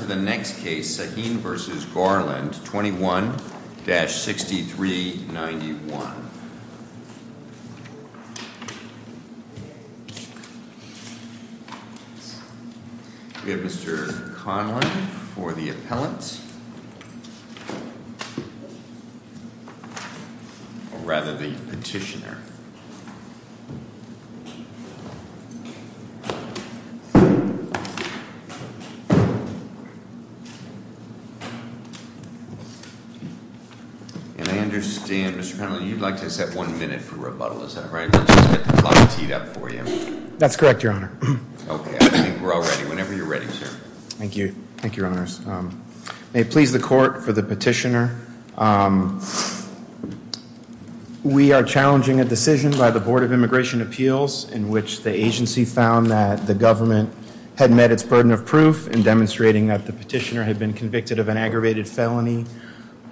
21-6391 Mr. Conlon for the appellant, or rather the petitioner. I understand, Mr. Conlon, you'd like to set one minute for rebuttal, is that right? That's correct, Your Honor. Okay, I think we're all ready. Whenever you're ready, sir. Thank you. Thank you, Your Honors. May it please the court, for the petitioner, We are challenging a decision by the Board of Immigration Appeals in which the agency found that the government had met its burden of proof in demonstrating that the petitioner had been convicted of an aggravated felony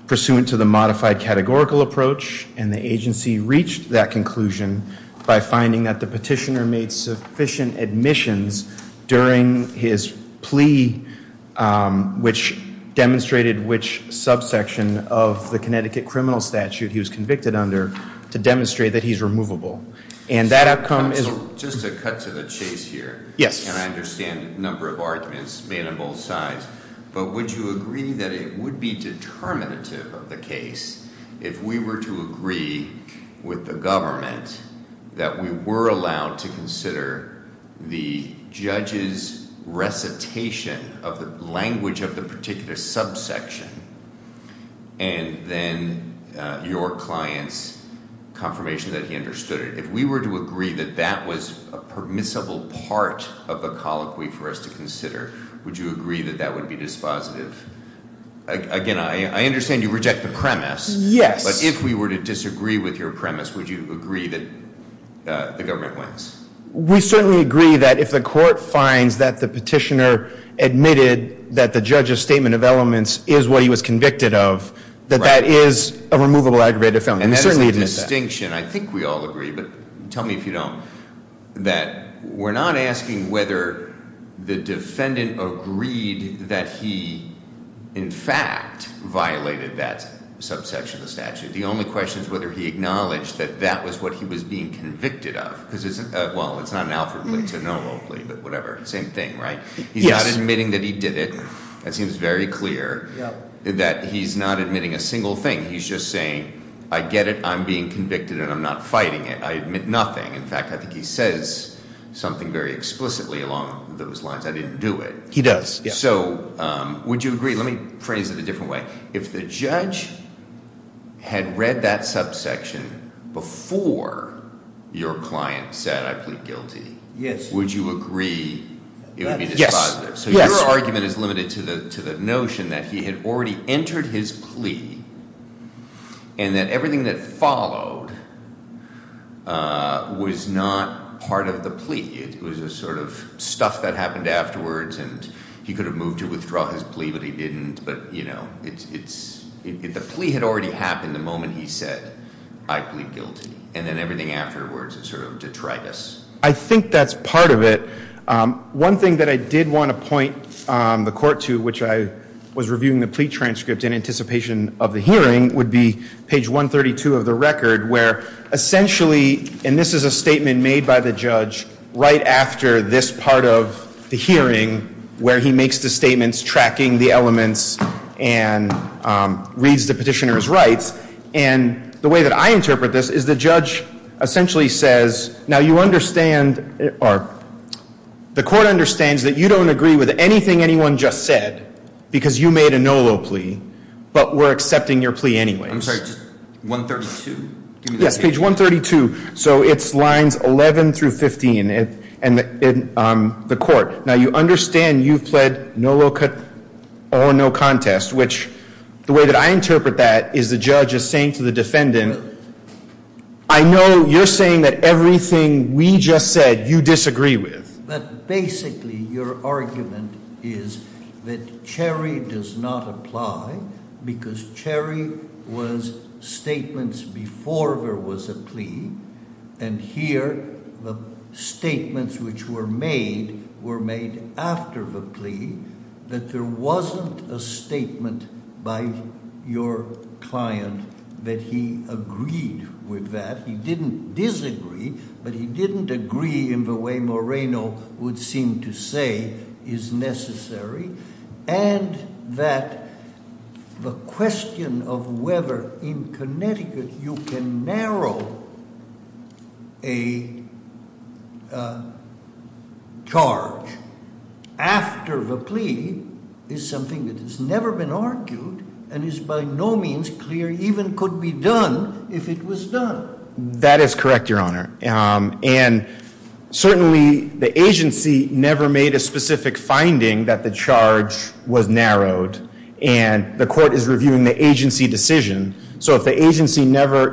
pursuant to the modified categorical approach, and the agency reached that conclusion by finding that the petitioner made sufficient admissions during his plea, which demonstrated which subsection of the Connecticut criminal statute he was convicted under to demonstrate that he's removable. Just to cut to the chase here, and I understand the number of arguments being on both sides, but would you agree that it would be determinative of the case if we were to agree with the government that we were allowed to consider the judge's recitation of the language of the particular subsection and then your client's confirmation that he understood it? If we were to agree that that was a permissible part of the colloquy for us to consider, would you agree that that would be dispositive? Again, I understand you reject the premise. But if we were to disagree with your premise, would you agree that the government wins? We certainly agree that if the court finds that the petitioner admitted that the judge's statement of elements is what he was convicted of, that that is a removable aggravated felony. And that is the distinction. I think we all agree, but tell me if you don't, that we're not asking whether the defendant agreed that he, in fact, violated that subsection of the statute. The only question is whether he acknowledged that that was what he was being convicted of. Well, it's not an outward thing, so no one will believe it, but whatever. It's the same thing, right? He's not admitting that he did it. It seems very clear that he's not admitting a single thing. He's just saying, I get it, I'm being convicted, and I'm not fighting it. I admit nothing. In fact, I think he says something very explicitly along those lines. I didn't do it. He does. So would you agree? Let me phrase it a different way. If the judge had read that subsection before your client said I was guilty, would you agree it would be dispositive? So your argument is limited to the notion that he had already entered his plea and that everything that followed was not part of the plea. It was the sort of stuff that happened afterwards, and he could have moved to withdraw his plea, but he didn't. If the plea had already happened the moment he said I plead guilty and then everything afterwards is sort of detritus. I think that's part of it. One thing that I did want to point the court to, which I was reviewing the plea transcripts in anticipation of the hearing, would be page 132 of the record, where essentially, and this is a statement made by the judge right after this part of the hearing where he makes the statements tracking the elements and reads the petitioner's rights, and the way that I interpret this is the judge essentially says, now you understand, or the court understands that you don't agree with anything anyone just said because you made a no low plea, but we're accepting your plea anyway. I'm sorry, 132? Yeah, page 132. So it's lines 11 through 15 in the court. Now you understand you've said no low plea or no contest, which the way that I interpret that is the judge is saying to the defendant, I know you're saying that everything we just said you disagree with. But basically your argument is that Cherry does not apply and here the statements which were made were made after the pleading, that there wasn't a statement by your client that he agreed with that. He didn't disagree, but he didn't agree in the way Moreno would seem to say is necessary, and that the question of whether in Connecticut you can narrow a charge after the plea is something that has never been argued and is by no means clear even could be done if it was done. That is correct, Your Honor. And certainly the agency never made a specific finding that the charge was narrowed and the court is reviewing the agency decision. So the agency never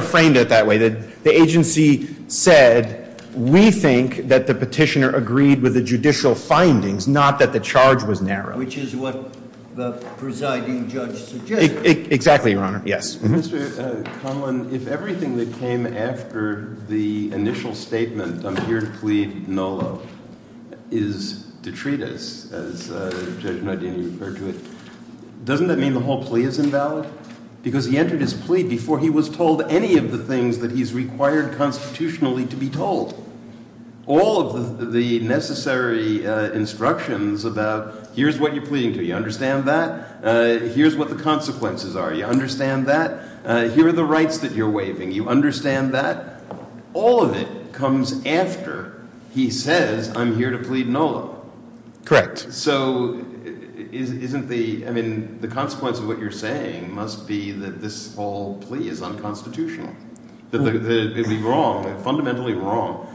framed it that way. The agency said we think that the petitioner agreed with the judicial findings, not that the charge was narrowed. Exactly, Your Honor. Mr. Conlon, if everything that came after the initial statement, I'm here to plead no love, is detritus, as Judge Nodini referred to it, doesn't that mean the whole plea is invalid? Because he entered his plea before he was told any of the things that he's required constitutionally to be told. All of the necessary instructions about here's what you're pleading to, you understand that? Here's what the consequences are. You understand that? Here are the rights that you're waiving. You understand that? All of it comes after he says I'm here to plead no love. Correct. So the consequence of what you're saying must be that this whole plea is unconstitutional. It would be wrong, fundamentally wrong,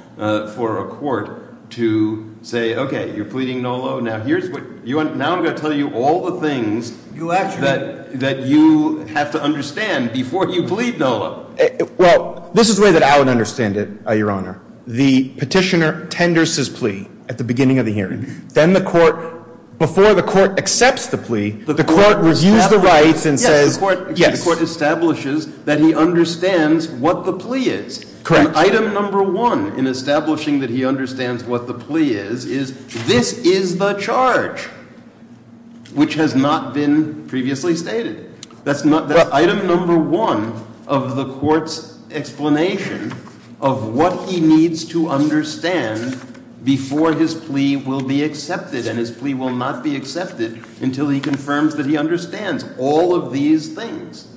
for a court to say, okay, you're pleading no love. Now I'm going to tell you all the things that you have to understand before you plead no love. Well, this is the way that I would understand it, Your Honor. The petitioner tenders his plea at the beginning of the hearing. Then the court, before the court accepts the plea, the court reviews the rights and says yes. The court establishes that he understands what the plea is. Correct. Item number one in establishing that he understands what the plea is, is this is the charge, which has not been previously stated. That's item number one of the court's explanation of what he needs to understand before his plea will be accepted. And his plea will not be accepted until he confirms that he understands all of these things.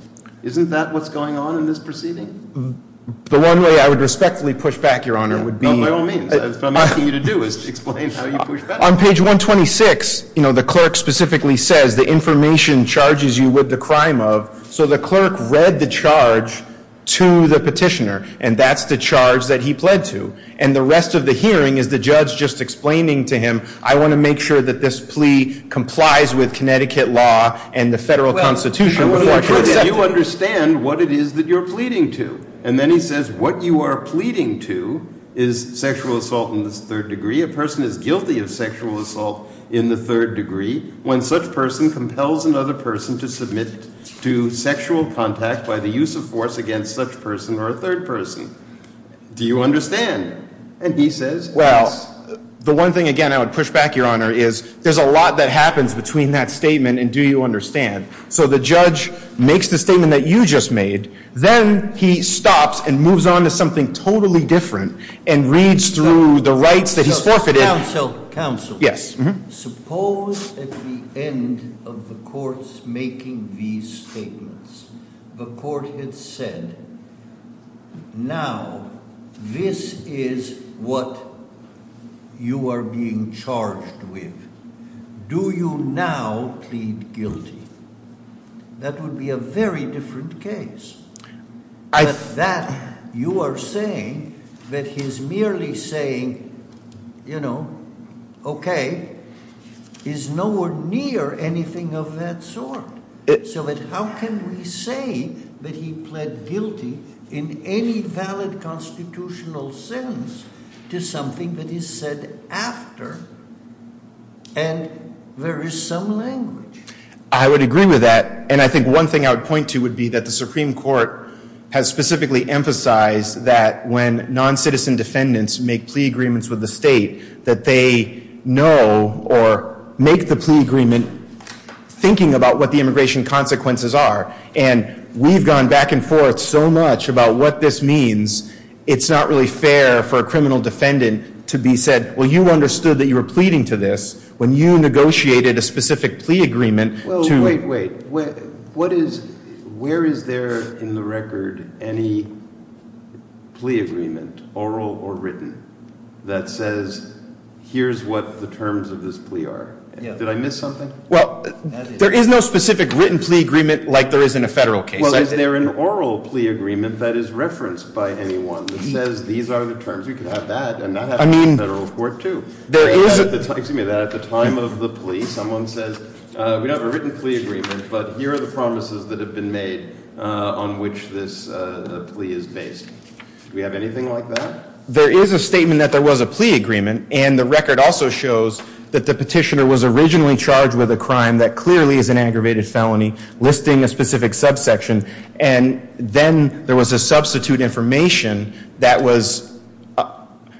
Isn't that what's going on in this proceeding? The one way I would respectfully push back, Your Honor, would be… No, no, I mean, what I'm asking you to do is explain how you push back. On page 126, you know, the clerk specifically says the information charges you with the crime of. So the clerk read the charge to the petitioner, and that's the charge that he pled to. And the rest of the hearing is the judge just explaining to him, I want to make sure that this plea complies with Connecticut law and the federal constitution. I want to make sure that you understand what it is that you're pleading to. And then he says what you are pleading to is sexual assault in the third degree. A person is guilty of sexual assault in the third degree when such person compels another person to submit to sexual contact by the use of force against such person or a third person. Do you understand? And he says… Well, the one thing, again, I would push back, Your Honor, is there's a lot that happens between that statement and do you understand. So the judge makes the statement that you just made. Then he stops and moves on to something totally different and reads through the rights that he's forfeited. Counsel, suppose at the end of the court's making these statements, the court had said, now this is what you are being charged with. Do you now plead guilty? That would be a very different case. But that, you are saying, that he's merely saying, you know, okay, is nowhere near anything of that sort. So how can we say that he pled guilty in any valid constitutional sense to something that he said after and there is some language. I would agree with that. And I think one thing I would point to would be that the Supreme Court has specifically emphasized that when non-citizen defendants make plea agreements with the state, that they know or make the plea agreement thinking about what the immigration consequences are. And we've gone back and forth so much about what this means. It's not really fair for a criminal defendant to be said, well, you understood that you were pleading to this. When you negotiated a specific plea agreement. Wait, wait. Where is there in the record any plea agreement, oral or written, that says here's what the terms of this plea are? Did I miss something? Well, there is no specific written plea agreement like there is in a federal case. Well, is there an oral plea agreement that is referenced by anyone that says these are the terms. We can have that and not have a federal court too. Excuse me. At the time of the plea, someone says we don't have a written plea agreement, but here are the promises that have been made on which this plea is based. Do we have anything like that? There is a statement that there was a plea agreement, and the record also shows that the petitioner was originally charged with a crime that clearly is an aggravated felony listing a specific subsection. And then there was a substitute information that was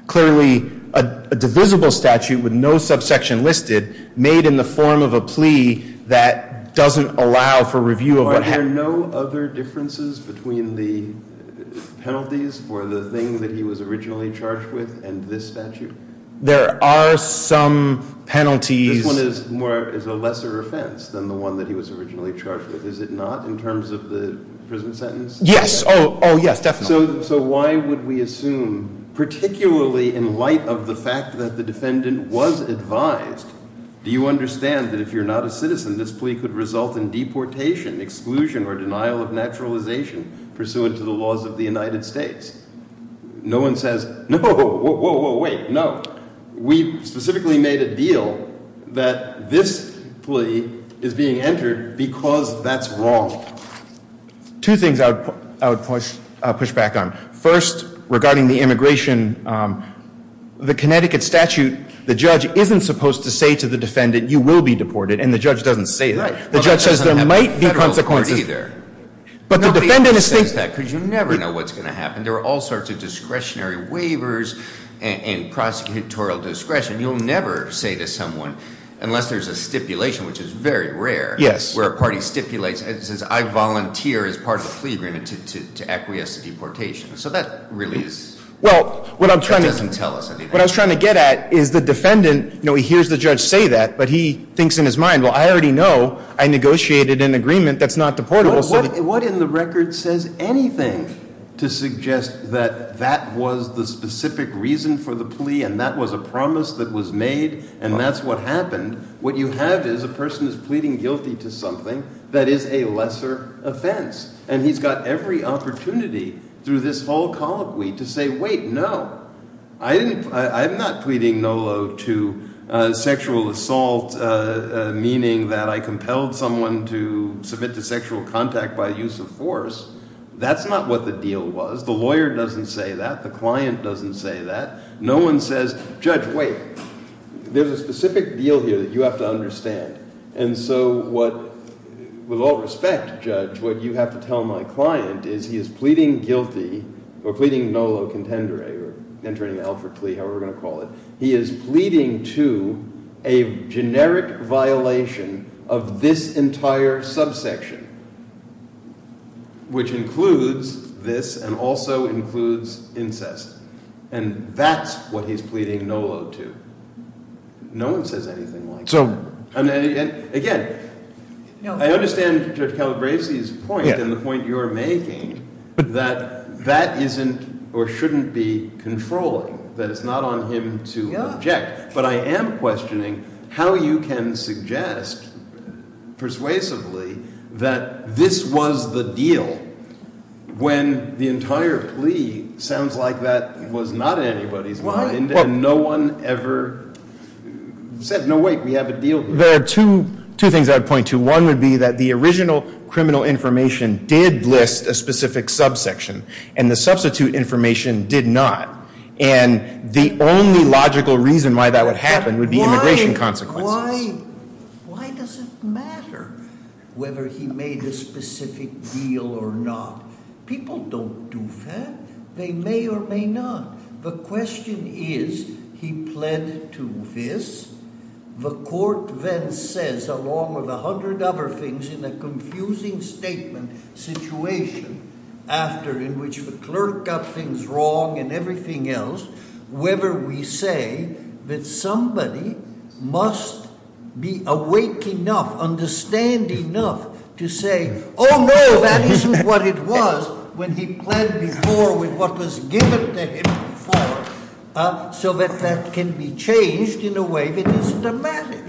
clearly a divisible statute with no subsection listed, made in the form of a plea that doesn't allow for review of what happened. Are there no other differences between the penalties for the thing that he was originally charged with and this statute? There are some penalties. This one is a lesser offense than the one that he was originally charged with, is it not? In terms of the prison sentence? Yes. Oh, yes, definitely. So why would we assume, particularly in light of the fact that the defendant was advised, do you understand that if you're not a citizen, this plea could result in deportation, exclusion, or denial of naturalization pursuant to the laws of the United States? No one says, no, whoa, whoa, whoa, wait, no. We specifically made a deal that this plea is being entered because that's wrong. Two things I would push back on. First, regarding the immigration, the Connecticut statute, the judge isn't supposed to say to the defendant, you will be deported, and the judge doesn't say that. The judge says there might be consequences. But the defendant is saying that because you never know what's going to happen. There are all sorts of discretionary waivers and prosecutorial discretion. You'll never say to someone, unless there's a stipulation, which is very rare, where a party stipulates and says I volunteer as part of the plea agreement to acquiesce to deportation. So that really doesn't tell us anything. What I was trying to get at is the defendant hears the judge say that, but he thinks in his mind, well, I already know I negotiated an agreement that's not deportable. What in the record says anything to suggest that that was the specific reason for the plea and that was a promise that was made and that's what happened? What you have is a person is pleading guilty to something that is a lesser offense, and he's got every opportunity through this whole colloquy to say, wait, no, I'm not pleading NOLO to sexual assault, meaning that I compelled someone to submit to sexual contact by use of force. That's not what the deal was. The lawyer doesn't say that. The client doesn't say that. No one says, judge, wait, there's a specific deal here that you have to understand. And so with all respect, judge, what you have to tell my client is he is pleading guilty to a generic violation of this entire subsection, which includes this and also includes incest, and that's what he's pleading NOLO to. No one says anything like that. Again, I understand, to tell Gracie's point and the point you're making, that that isn't or shouldn't be controlled, that it's not on him to object, but I am questioning how you can suggest persuasively that this was the deal when the entire plea sounds like that was not in anybody's mind and no one ever said, no wait, we have a deal. There are two things I'd point to. One would be that the original criminal information did list a specific subsection and the substitute information did not, and the only logical reason why that would happen would be immigration consequences. Why does it matter whether he made a specific deal or not? People don't do that. They may or may not. The question is, he pled to this. The court then says, along with a hundred other things in a confusing statement, situation after in which the clerk got things wrong and everything else, whether we say that somebody must be awake enough, understand enough, to say, oh no, that isn't what it was when he pled before with what was given to him before, so that that can be changed in a way that doesn't matter.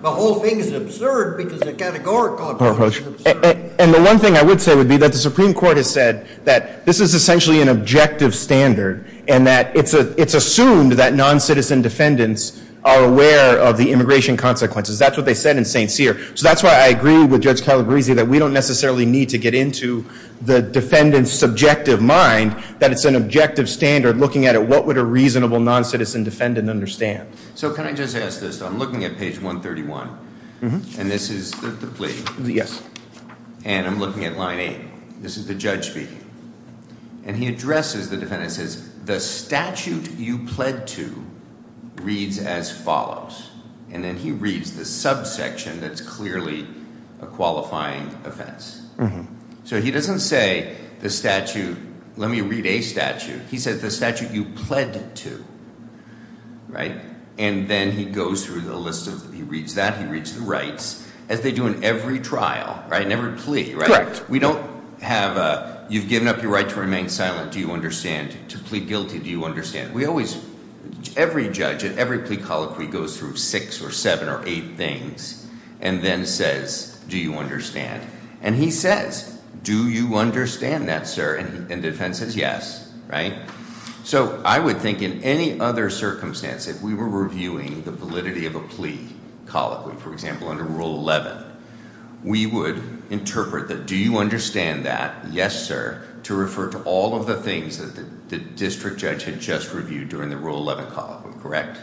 The whole thing is absurd because the categorical approach is absurd. And the one thing I would say would be that the Supreme Court has said that this is essentially an objective standard and that it's assumed that non-citizen defendants are aware of the immigration consequences. That's what they said in St. Cyr. So that's why I agree with Judge Calabresi that we don't necessarily need to get into the defendant's subjective mind that it's an objective standard looking at it. What would a reasonable non-citizen defendant understand? So can I just ask this? I'm looking at page 131, and this is the plea. Yes. And I'm looking at line 8. This is the judge speaking. And he addresses the defendant and says, the statute you pled to reads as follows. And then he reads the subsection that's clearly a qualifying offense. So he doesn't say the statute, let me read a statute. He says the statute you pled to, right? And then he goes through the list of, he reads that, he reads the rights, as they do in every trial, right, in every plea, right? We don't have a, you've given up your right to remain silent, do you understand? To plead guilty, do you understand? We always, every judge at every plea colloquy goes through six or seven or eight things and then says, do you understand? And he says, do you understand that, sir? And the defendant says, yes, right? So I would think in any other circumstance, if we were reviewing the validity of a plea colloquy, for example, under Rule 11, we would interpret the do you understand that, yes, sir, to refer to all of the things that the district judge had just reviewed during the Rule 11 colloquy, correct?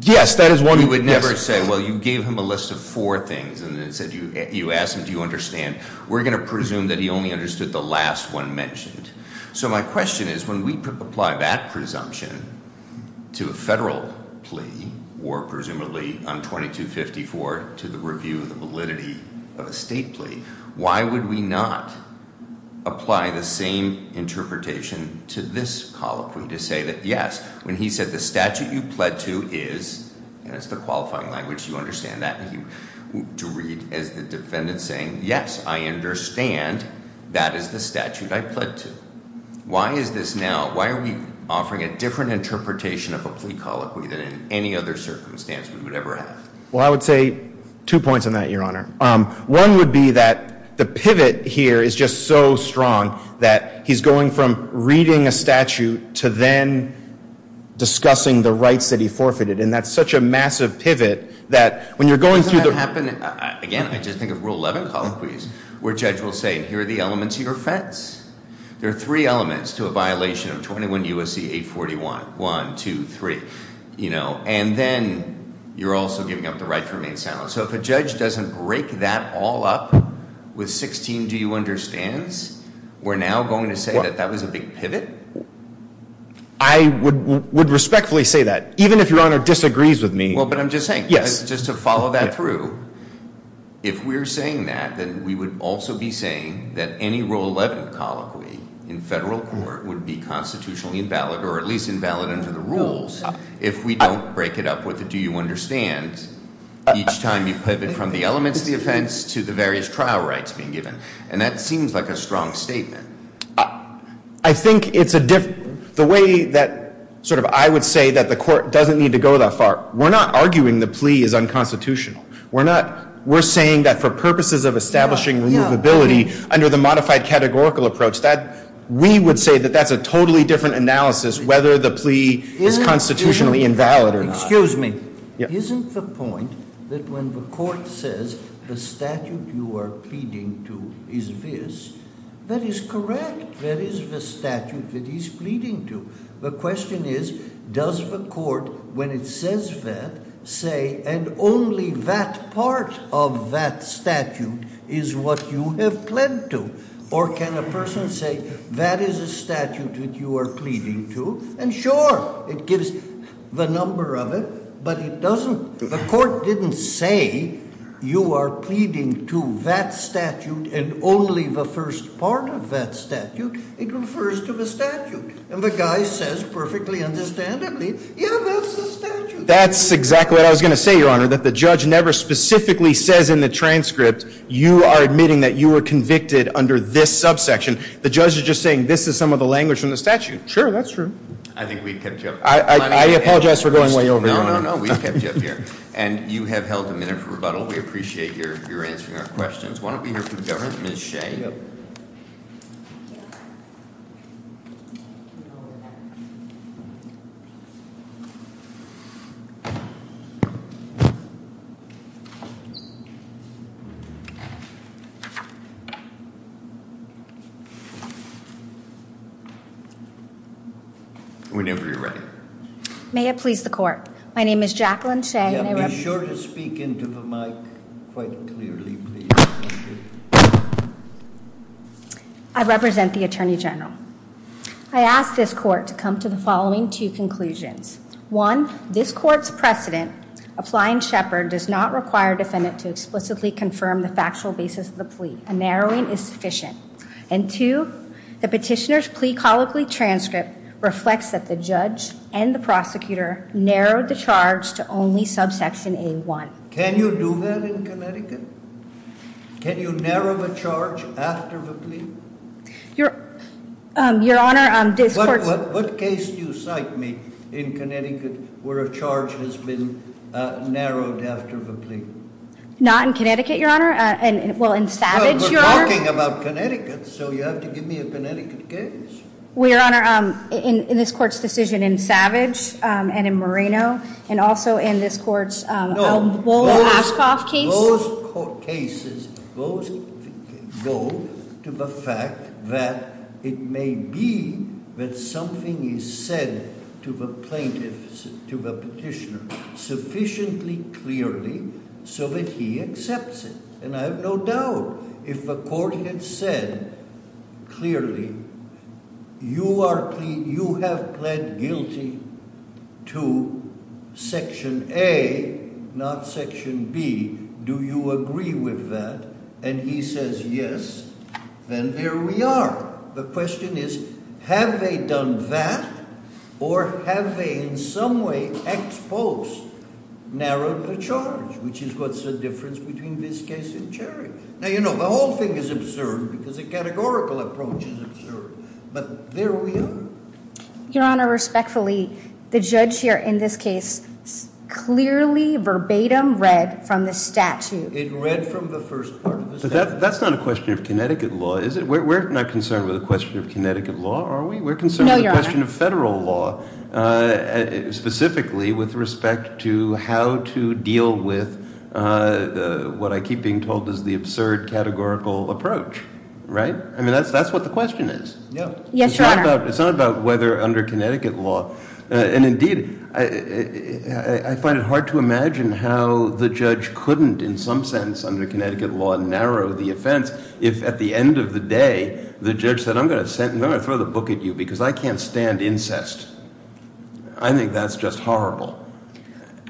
Yes, that is one. You would never say, well, you gave him a list of four things and then said you asked him do you understand. We're going to presume that he only understood the last one mentioned. So my question is when we apply that presumption to a federal plea or presumably on 2254 to the review of the validity of a state plea, why would we not apply the same interpretation to this colloquy to say that, yes, when he said the statute you pled to is, and that's the qualifying language, you understand that, to read as the defendant saying, yes, I understand that is the statute I pled to. Why is this now? Why are we offering a different interpretation of a plea colloquy than in any other circumstance we would ever have? Well, I would say two points on that, Your Honor. One would be that the pivot here is just so strong that he's going from reading a statute to then discussing the rights that he forfeited, and that's such a massive pivot that when you're going through the rule 11 colloquies where a judge will say here are the elements of your offense. There are three elements to a violation of 21 U.S.C. 841, one, two, three, you know, and then you're also giving up the right to remain silent. So if a judge doesn't break that all up with 16 do you understand's, we're now going to say that that was a big pivot? I would respectfully say that, even if Your Honor disagrees with me. Well, but I'm just saying, just to follow that through, if we're saying that, then we would also be saying that any rule 11 colloquy in federal court would be constitutionally invalid or at least invalid under the rules if we don't break it up with the do you understand's each time you pivot from the elements of the offense to the various trial rights being given, and that seems like a strong statement. I think it's a different, the way that sort of I would say that the court doesn't need to go that far. We're not arguing the plea is unconstitutional. We're saying that for purposes of establishing reusability under the modified categorical approach, we would say that that's a totally different analysis whether the plea is constitutionally invalid or not. Excuse me. Isn't the point that when the court says the statute you are pleading to is this, that is correct. That is the statute that he's pleading to. The question is, does the court, when it says that, say, and only that part of that statute is what you have pled to? Or can a person say that is a statute that you are pleading to? And sure, it gives the number of it, but it doesn't, the court didn't say you are pleading to that statute and only the first part of that statute. It refers to the statute. And the guy says perfectly understandably, yeah, that's the statute. That's exactly what I was going to say, Your Honor, that the judge never specifically says in the transcript, you are admitting that you were convicted under this subsection. The judge is just saying this is some of the language from the statute. Sure, that's true. I think we kept you up. I apologize for going way over. No, no, no, we kept you up here. And you have held a minute for rebuttal. We appreciate your answering our questions. Why don't we hear from the government? Ms. Shea. Whenever you're ready. May it please the court. My name is Jacqueline Shea. Be sure to speak into the mic quite clearly, please. I represent the Attorney General. I ask this court to come to the following two conclusions. One, this court's precedent, applying Shepard does not require defendants to explicitly confirm the facts. A narrowing is sufficient. And two, the petitioner's plea colloquy transcript reflects that the judge and the prosecutor narrowed the charge to only subsection A1. Can you do that in Connecticut? Can you narrow the charge after the plea? Your Honor, this court... What case do you cite me in Connecticut where a charge has been narrowed after the plea? Not in Connecticut, Your Honor. Well, in Savage, Your Honor. We're talking about Connecticut, so you have to give me a Connecticut case. Well, Your Honor, in this court's decision in Savage and in Moreno and also in this court's Albola-Ashkoff case. Those cases go to the fact that it may be that something is said to the plaintiffs, to the petitioner, sufficiently clearly so that he accepts it. And I have no doubt if the court had said clearly, you have pled guilty to section A, not section B. Do you agree with that? And he says, yes. Then there we are. The question is, have they done that or have they in some way exposed, narrowed the charge, which is what's the difference between this case and Cherry. Now, you know, the whole thing is absurd because the categorical approach is absurd, but there we are. Your Honor, respectfully, the judge here in this case clearly verbatim read from the statute. It read from the first part of the statute. That's not a question of Connecticut law, is it? We're not concerned with the question of Connecticut law, are we? No, Your Honor. We're concerned with the question of federal law, specifically with respect to how to deal with what I keep being told is the absurd categorical approach, right? I mean, that's what the question is. Yes, Your Honor. It's not about whether under Connecticut law, and indeed I find it hard to imagine how the judge couldn't in some sense under Connecticut law narrow the offense if at the end of the day the judge said, I'm going to throw the book at you because I can't stand incest. I think that's just horrible.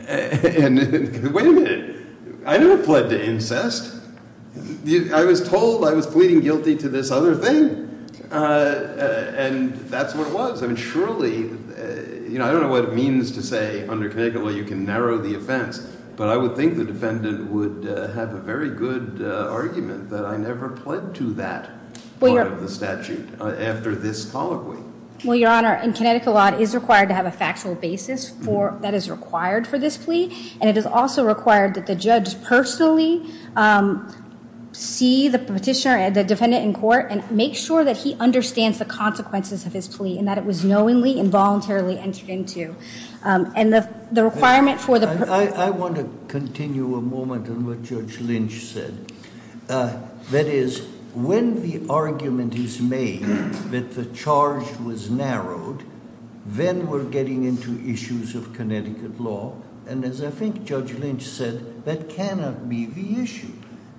And wait a minute. I never pled to incest. I was told I was pleading guilty to this other thing, and that's what it was. I mean, surely, you know, I don't know what it means to say under Connecticut law you can narrow the offense, but I would think the defendant would have a very good argument that I never pled to that part of the statute after this following. Well, Your Honor, Connecticut law is required to have a factual basis that is required for this plea, and it is also required that the judge personally see the petitioner and the defendant in court and make sure that he understands the consequences of his plea and that it was knowingly and voluntarily entered into. And the requirement for the petitioner... I want to continue a moment on what Judge Lynch said. That is, when the argument is made that the charge was narrowed, then we're getting into issues of Connecticut law, and as I think Judge Lynch said, that cannot be the issue.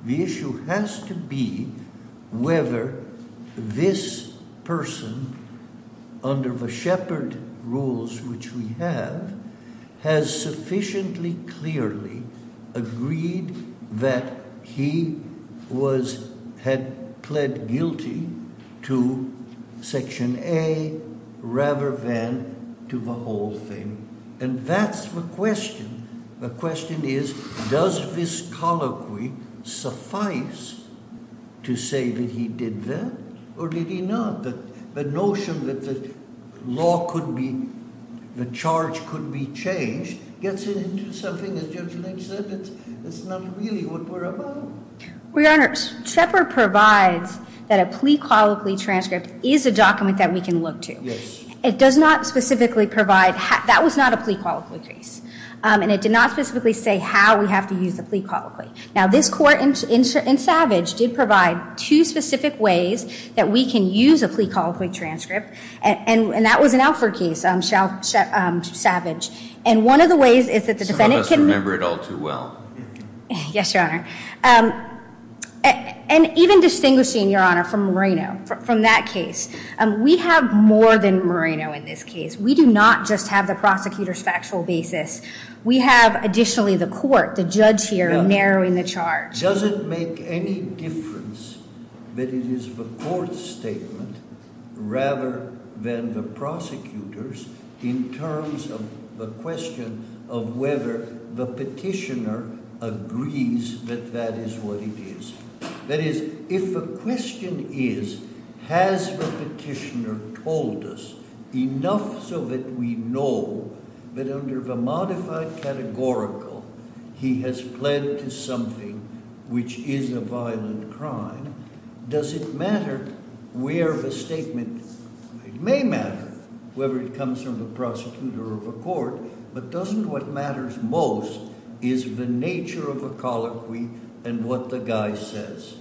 The issue has to be whether this person, under the Shepard rules which we have, has sufficiently clearly agreed that he had pled guilty to Section A rather than to the whole thing. And that's the question. The question is, does this colloquy suffice to say that he did that, or did he not? The notion that the charge could be changed gets into something that Judge Lynch said that's not really what we're about. Your Honor, Shepard provides that a plea colloquy transcript is a document that we can look to. It does not specifically provide... That was not a plea colloquy case, and it did not specifically say how we have to use a plea colloquy. Now, this court in Savage did provide two specific ways that we can use a plea colloquy transcript, and that was an Alford case, Savage. And one of the ways is that the defendant can... Some of us remember it all too well. Yes, Your Honor. And even distinguishing, Your Honor, from Moreno, from that case, we have more than Moreno in this case. We do not just have the prosecutor's factual basis. We have, additionally, the court, the judge here, narrowing the charge. Does it make any difference that it is the court's statement rather than the prosecutor's in terms of the question of whether the petitioner agrees that that is what it is? That is, if the question is, has the petitioner told us enough so that we know that under the modified categorical he has pled to something which is a violent crime, does it matter where the statement... It may matter whether it comes from the prosecutor or the court, but doesn't what matters most is the nature of the colloquy and what the guy says?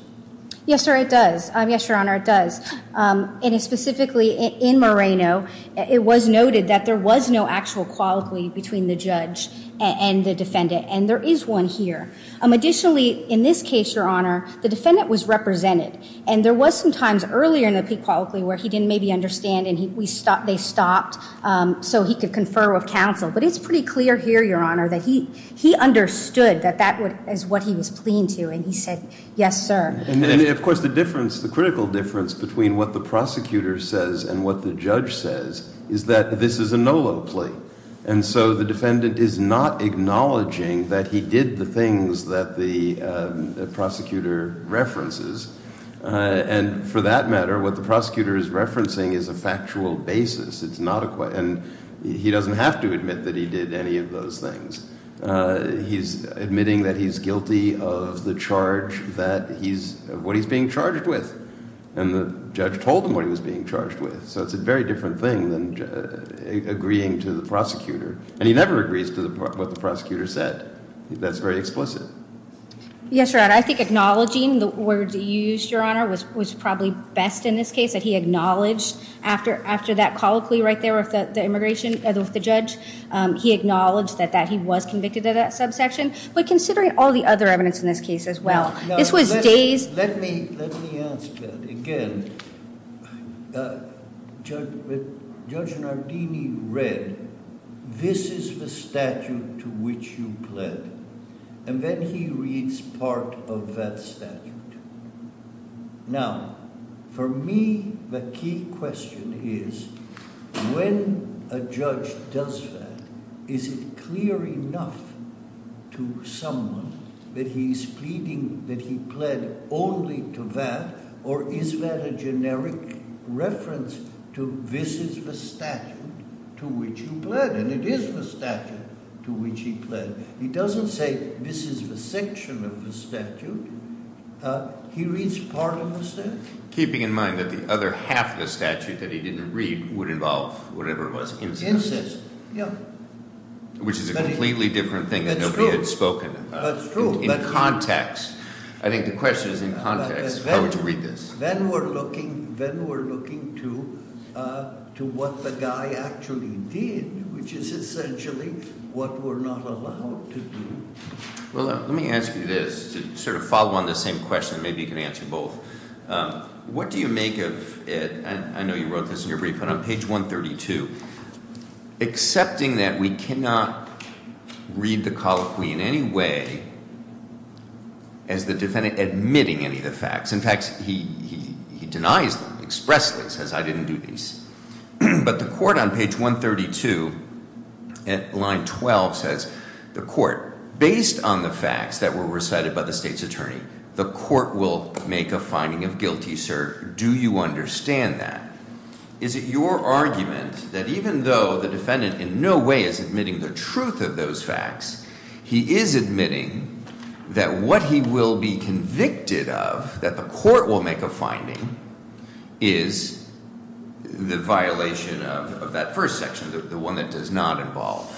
Yes, sir, it does. Yes, Your Honor, it does. And specifically in Moreno, it was noted that there was no actual colloquy between the judge and the defendant, and there is one here. Additionally, in this case, Your Honor, the defendant was represented, and there was some times earlier in a pre-colloquy where he didn't maybe understand, and they stopped so he could confer with counsel. But it's pretty clear here, Your Honor, that he understood that that was what he was pleading to, and he said, yes, sir. And, of course, the difference, the critical difference between what the prosecutor says and what the judge says is that this is a no-no plea. And so the defendant is not acknowledging that he did the things that the prosecutor references. And for that matter, what the prosecutor is referencing is a factual basis. And he doesn't have to admit that he did any of those things. He's admitting that he's guilty of the charge that he's, what he's being charged with. And the judge told him what he was being charged with. So it's a very different thing than agreeing to the prosecutor. And he never agrees to what the prosecutor said. That's very explicit. Yes, Your Honor, I think acknowledging the words he used, Your Honor, was probably best in this case, that he acknowledged after that colloquy right there with the immigration, with the judge, he acknowledged that he was convicted of that subsection. But considering all the other evidence in this case as well, this was days... Let me ask again. Judge Nardini read, this is the statute to which you pled. And then he reads part of that statute. Now, for me, the key question is, when a judge does that, is it clear enough to someone that he's pleading, that he pled only to that, or is that a generic reference to, this is the statute to which he pled. And it is the statute to which he pled. He doesn't say, this is the section of the statute. He reads part of the section. Keeping in mind that the other half of the statute that he didn't read would involve whatever it was. Yes, yes. Which is a completely different thing in context. I think the question is in context. How would you read this? Then we're looking to what the guy actually did, which is essentially what we're not allowed to do. Well, let me ask you this, to sort of follow on the same question, maybe you can answer both. What do you make of, I know you wrote this in your brief, but on page 132, accepting that we cannot read the colloquy in any way, and the defendant admitting any of the facts. In fact, he denies them, expressly says, I didn't do these. But the court on page 132 at line 12 says, the court, based on the facts that were recited by the state's attorney, the court will make a finding of guilty, sir. Do you understand that? Is it your argument that even though the defendant in no way is admitting the truth of those facts, he is admitting that what he will be convicted of, that the court will make a finding, is the violation of that first section, the one that does not involve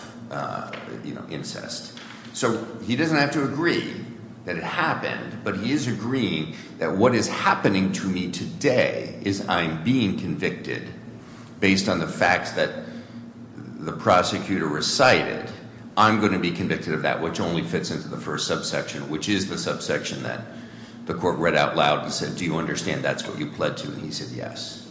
incest. So he doesn't have to agree that it happened, but he is agreeing that what is happening to me today is I'm being convicted based on the fact that the prosecutor recited, I'm going to be convicted of that, which only fits into the first subsection, which is the subsection that the court read out loud and said, do you understand that's what he pledged to me? He said, yes.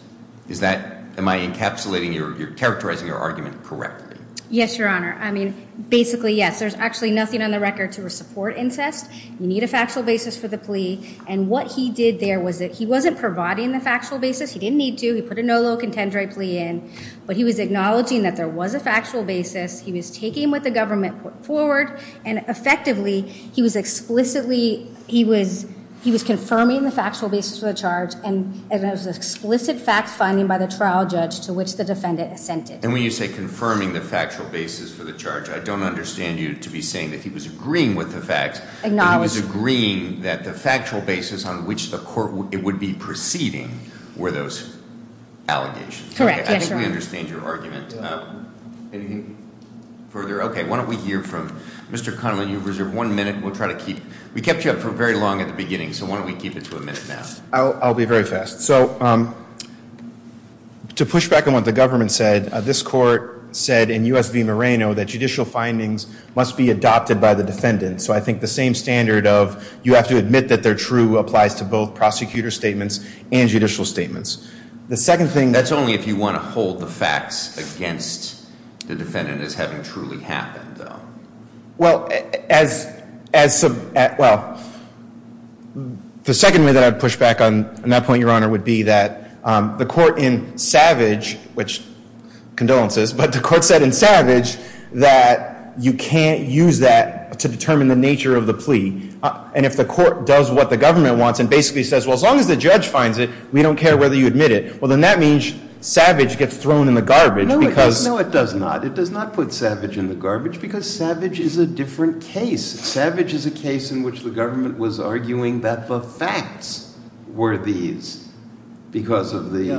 Am I encapsulating or characterizing your argument correctly? Yes, Your Honor. I mean, basically, yes. There's actually nothing on the record to support incest. You need a factual basis for the plea. And what he did there was that he wasn't providing the factual basis. He didn't need to. He put a no low contendere plea in. But he was acknowledging that there was a factual basis. He was taking what the government put forward. And effectively, he was explicitly, he was confirming the factual basis of the charge as an explicit fact finding by the trial judge to which the defendant assented. And when you say confirming the factual basis for the charge, I don't understand you to be saying that he was agreeing with the fact that he was agreeing that the factual basis on which the court would be proceeding were those allegations. Correct. I actually understand your argument. Anything further? OK. Why don't we hear from Mr. Connelly. You have one minute. We kept you up for very long at the beginning. So why don't we keep it to a minute now? I'll be very fast. So to push back on what the government said, this court said in U.S. v. Moreno that judicial findings must be adopted by the defendant. So I think the same standard of you have to admit that they're true applies to both prosecutor statements and judicial statements. That's only if you want to hold the facts against the defendant as having truly happened, though. The second way that I'd push back on that point, Your Honor, would be that the court in Savage, which condolences, but the court said in Savage that you can't use that to determine the nature of the plea. And if the court does what the government wants and basically says, well, as long as the judge finds it, we don't care whether you admit it, well, then that means Savage gets thrown in the garbage. No, it does not. It does not put Savage in the garbage because Savage is a different case. Savage is a case in which the government was arguing that the facts were these because of the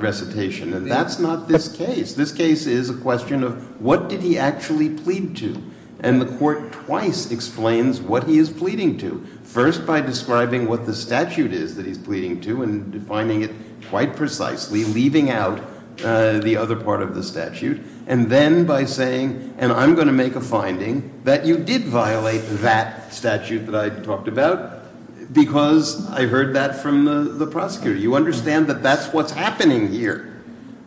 recitation. And that's not this case. This case is a question of what did he actually plead to. And the court twice explains what he is pleading to, first by describing what the statute is that he's pleading to and finding it quite precisely, leaving out the other part of the statute. And then by saying, and I'm going to make a finding that you did violate that statute that I talked about because I heard that from the prosecutor. You understand that that's what's happening here.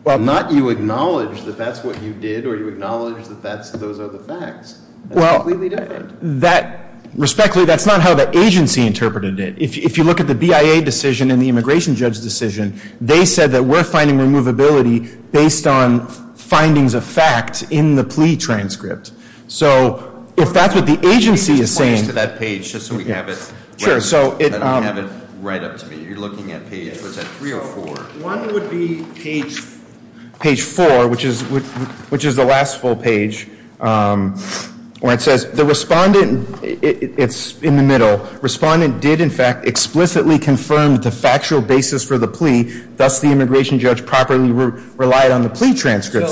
Not you acknowledge that that's what you did or you acknowledge that those are the facts. That's completely different. Respectfully, that's not how the agency interpreted it. If you look at the BIA decision and the immigration judge decision, they said that we're finding removability based on findings of fact in the plea transcript. So if that's what the agency is saying. That page, just so we have it. Sure, so it. I don't have it right up to me. You're looking at page, was that three or four? One would be page four, which is the last full page. When it says the respondent, it's in the middle. Respondent did, in fact, explicitly confirm the factual basis for the plea. Thus, the immigration judge properly relied on the plea transcript.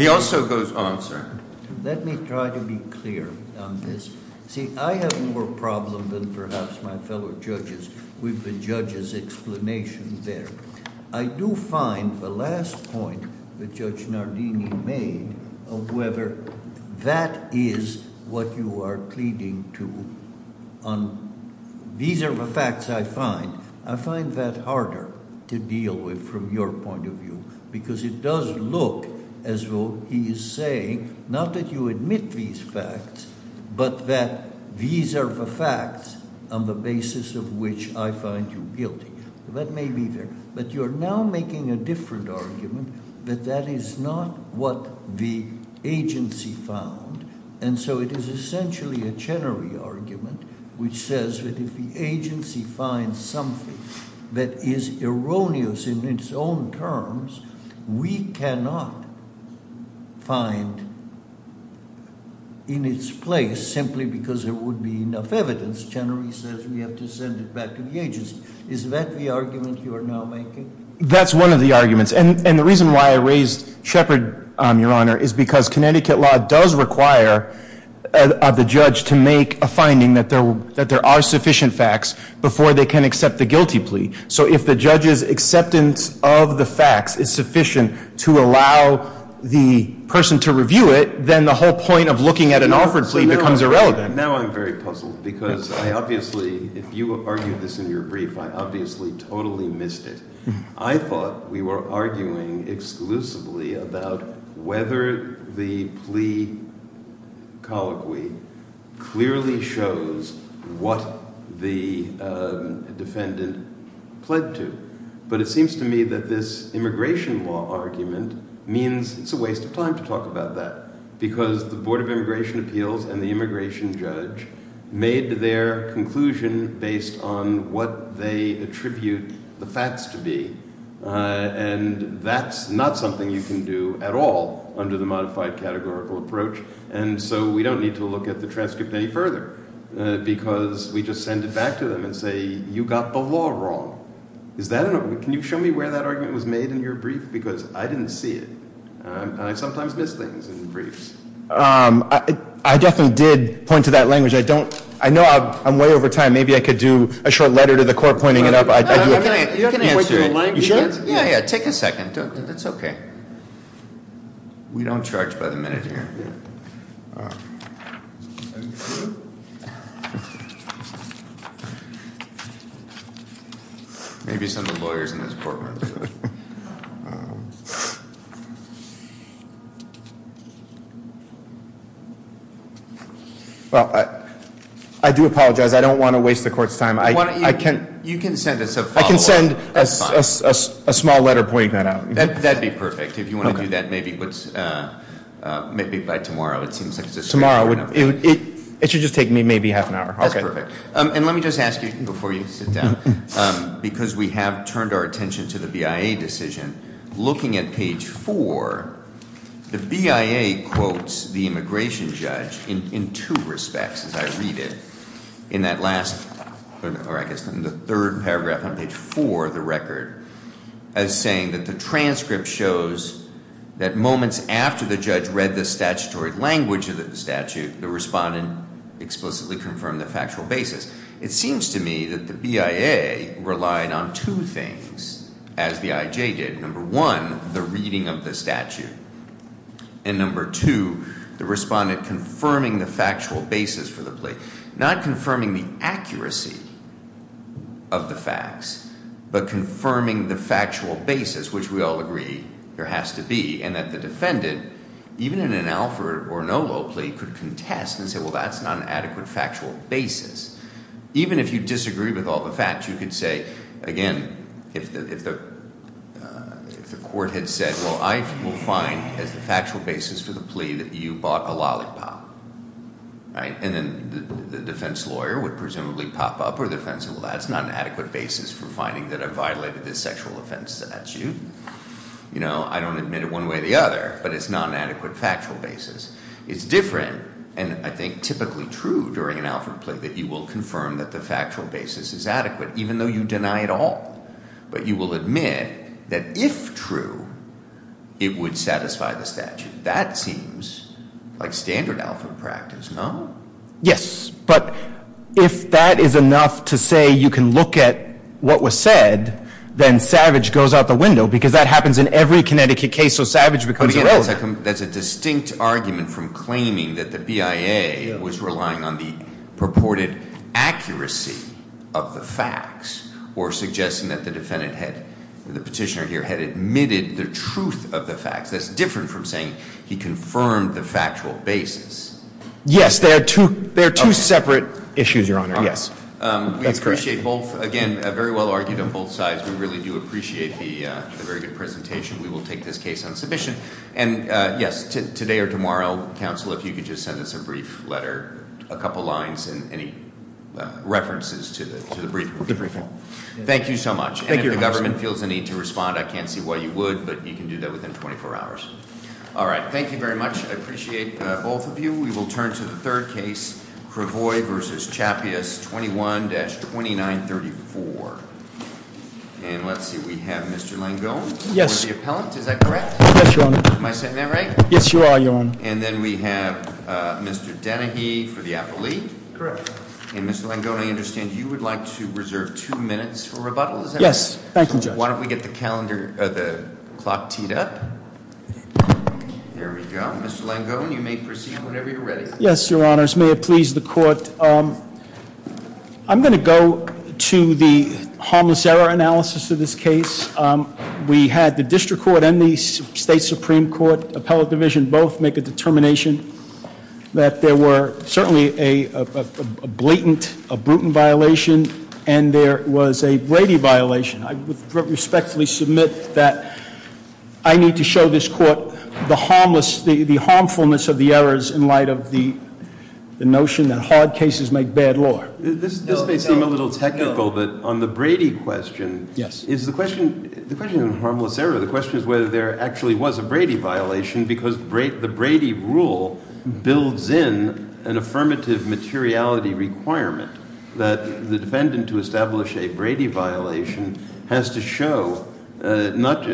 He also goes on, sir. Let me try to be clear on this. See, I have more problem than perhaps my fellow judges with the judge's explanation there. I do find the last point that Judge Nardini made of whether that is what you are pleading to. These are the facts I find. I find that harder to deal with from your point of view. Because it does look as though he is saying, not that you admit these facts, but that these are the facts on the basis of which I find you guilty. That may be there. But you're now making a different argument that that is not what the agency found. And so it is essentially a Chenery argument, which says that if the agency finds something that is erroneous in its own terms, we cannot find in its place simply because there would be enough evidence. Chenery says we have to send it back to the agency. Is that the argument you are now making? That's one of the arguments. And the reason why I raise Shepard, Your Honor, is because Connecticut law does require the judge to make a finding that there are sufficient facts before they can accept the guilty plea. So if the judge's acceptance of the facts is sufficient to allow the person to review it, then the whole point of looking at an awkward plea becomes irrelevant. Now I'm very puzzled. Because I obviously, if you argued this in your brief, I obviously totally missed it. I thought we were arguing exclusively about whether the plea colloquy clearly shows what the defendant pledged to. But it seems to me that this immigration law argument means it's a waste of time to talk about that. Because the Board of Immigration Appeals and the immigration judge made their conclusion based on what they attribute the facts to be. And that's not something you can do at all under the modified categorical approach. And so we don't need to look at the transcript any further. Because we just send it back to them and say, you got the law wrong. Can you show me where that argument was made in your brief? Because I didn't see it. And I sometimes miss things in briefs. I definitely did point to that language. I know I'm way over time. Maybe I could do a short letter to the court pointing it up. You don't have to answer it. You sure? Yeah, yeah, take a second. It's OK. We don't charge pleasantries here. Maybe some of the lawyers in this courtroom do. I do apologize. I don't want to waste the court's time. You can send us a follow-up. I can send a small letter pointing that out. That'd be perfect. If you want to do that, maybe by tomorrow. Tomorrow. It should just take me maybe half an hour. That's perfect. And let me just ask you, before you sit down, because we have turned our attention to the BIA decision, looking at page 4, the BIA quotes the immigration judge in two respects, as I read it. In that last, or I guess in the third paragraph on page 4 of the record, it's saying that the transcript shows that moments after the judge read the statutory language of the statute, the respondent explicitly confirmed the factual basis. It seems to me that the BIA relied on two things, as the IJ did. Number one, the reading of the statute. And number two, the respondent confirming the factual basis for the plea. Not confirming the accuracy of the facts, but confirming the factual basis, which we all agree there has to be. And as the defendant, even in an alpha or an oval plea, could contest and say, well, that's not an adequate factual basis. Even if you disagree with all the facts, you could say, again, if the court had said, well, I will find that the factual basis for the plea that you bought a lollipop. And then the defense lawyer would presumably pop up, or the defense lawyer would say, that's not an adequate basis for finding that I've violated a sexual offense statute. I don't admit it one way or the other, but it's not an adequate factual basis. It's different, and I think typically true during an alpha plea, that you will confirm that the factual basis is adequate, even though you deny it all. But you will admit that if true, it would satisfy the statute. That seems like standard alpha practice, no? Yes, but if that is enough to say you can look at what was said, then savage goes out the window, because that happens in every Connecticut case, so savage becomes an oval. That's a distinct argument from claiming that the BIA was relying on the purported accuracy of the facts, or suggesting that the petitioner here had admitted the truth of the facts. That's different from saying he confirmed the factual basis. Yes, there are two separate issues, Your Honor, yes. We appreciate both. Again, very well argued on both sides. We really do appreciate the very good presentation. We will take this case on submission. And yes, today or tomorrow, counsel, if you could just send us a brief letter, a couple lines, and any references to the brief. Thank you so much. And if the government feels the need to respond, I can't see why you would, but you can do that within 24 hours. All right, thank you very much. I appreciate both of you. We will turn to the third case, Cravoy v. Chaffeeus, 21-2934. And let's see, we have Mr. Langone for the appellant, is that correct? Yes, Your Honor. Am I saying that right? Yes, you are, Your Honor. And then we have Mr. Dennehy for the appellee. Correct. And Mr. Langone, I understand you would like to reserve two minutes for rebuttal. Yes, thank you, Judge. Why don't we get the clock teed up. There we go. Mr. Langone, you may proceed whenever you're ready. Yes, Your Honor. As may it please the court, I'm going to go to the harmless error analysis of this case. We had the district court and the state supreme court, appellate division, both make a determination that there were certainly a blatant, a brutal violation, and there was a Brady violation. I respectfully submit that I need to show this court the harmfulness of the errors in light of the notion that hard cases make bad law. This may seem a little technical, but on the Brady question, the question on harmless error, the question is whether there actually was a Brady violation because the Brady rule builds in an affirmative materiality requirement that the defendant to establish a Brady violation has to show, not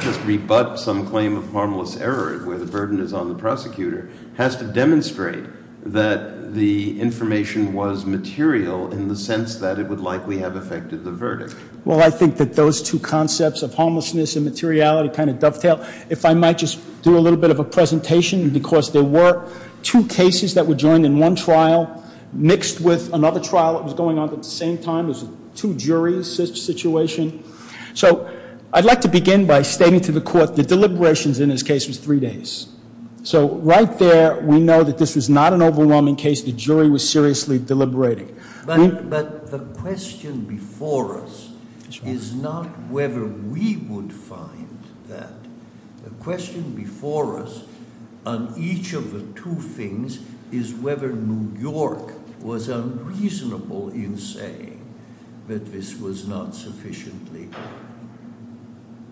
just rebut some claim of harmless error where the burden is on the prosecutor, has to demonstrate that the information was material in the sense that it would likely have affected the verdict. Well, I think that those two concepts of harmlessness and materiality kind of dovetail. If I might just do a little bit of a presentation, because there were two cases that were joined in one trial mixed with another trial that was going on at the same time. It was a two jury situation. So I'd like to begin by stating to the court the deliberations in this case was three days. So right there, we know that this was not an overwhelming case. The jury was seriously deliberating. But the question before us is not whether we would find that. The question before us on each of the two things is whether New York was unreasonable in saying that this was not sufficiently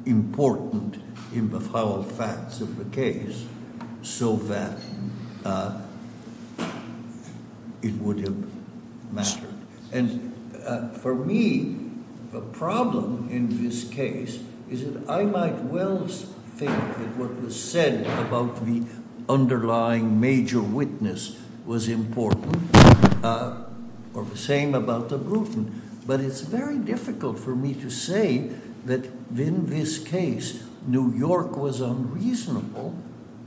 important in the facts of the case so that it would have mattered. And for me, the problem in this case is that I might well think that what was said about the underlying major witness was important, or the same about the Bluton. But it's very difficult for me to say that in this case, New York was unreasonable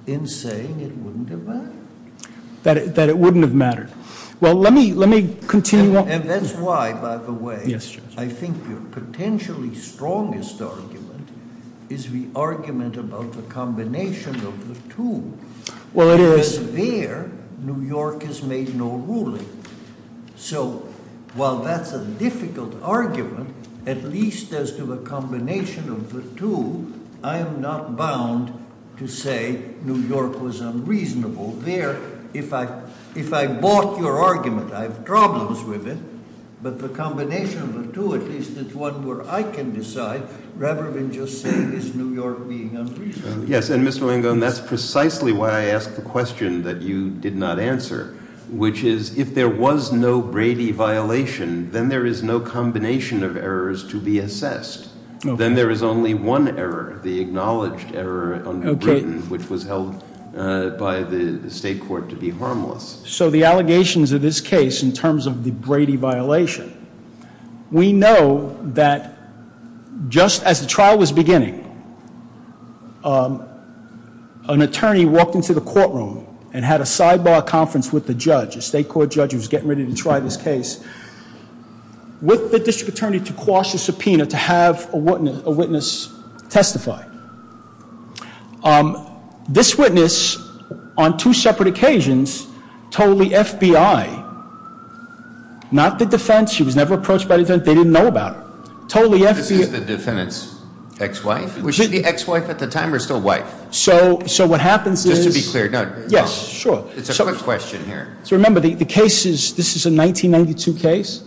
in saying it wouldn't have mattered. That it wouldn't have mattered. Well, let me continue. And that's why, by the way, I think the potentially strongest argument is the argument about the combination of the two. Because there, New York has made no ruling. So while that's a difficult argument, at least as to the combination of the two, I'm not bound to say New York was unreasonable. There, if I bought your argument, I have problems with it. But the combination of the two, at least it's one where I can decide, rather than just say, is New York being unreasonable? Yes, and Mr. Wango, that's precisely why I asked the question that you did not answer. Which is, if there was no Brady violation, then there is no combination of errors to be assessed. Then there is only one error, the acknowledged error under Bruton, which was held by the state court to be harmless. So the allegations of this case, in terms of the Brady violation, we know that just as the trial was beginning, an attorney walked into the courtroom and had a sidebar conference with the judge, the state court judge who was getting ready to try this case, with the district attorney to quash the subpoena to have a witness testify. This witness, on two separate occasions, told the FBI, not the defense. She was never approached by the defense. They didn't know about it. The defense, ex-wife? Was she the ex-wife at the time or still wife? So what happens is... Just to be clear. Yes, sure. It's a good question here. So remember, this is a 1992 case.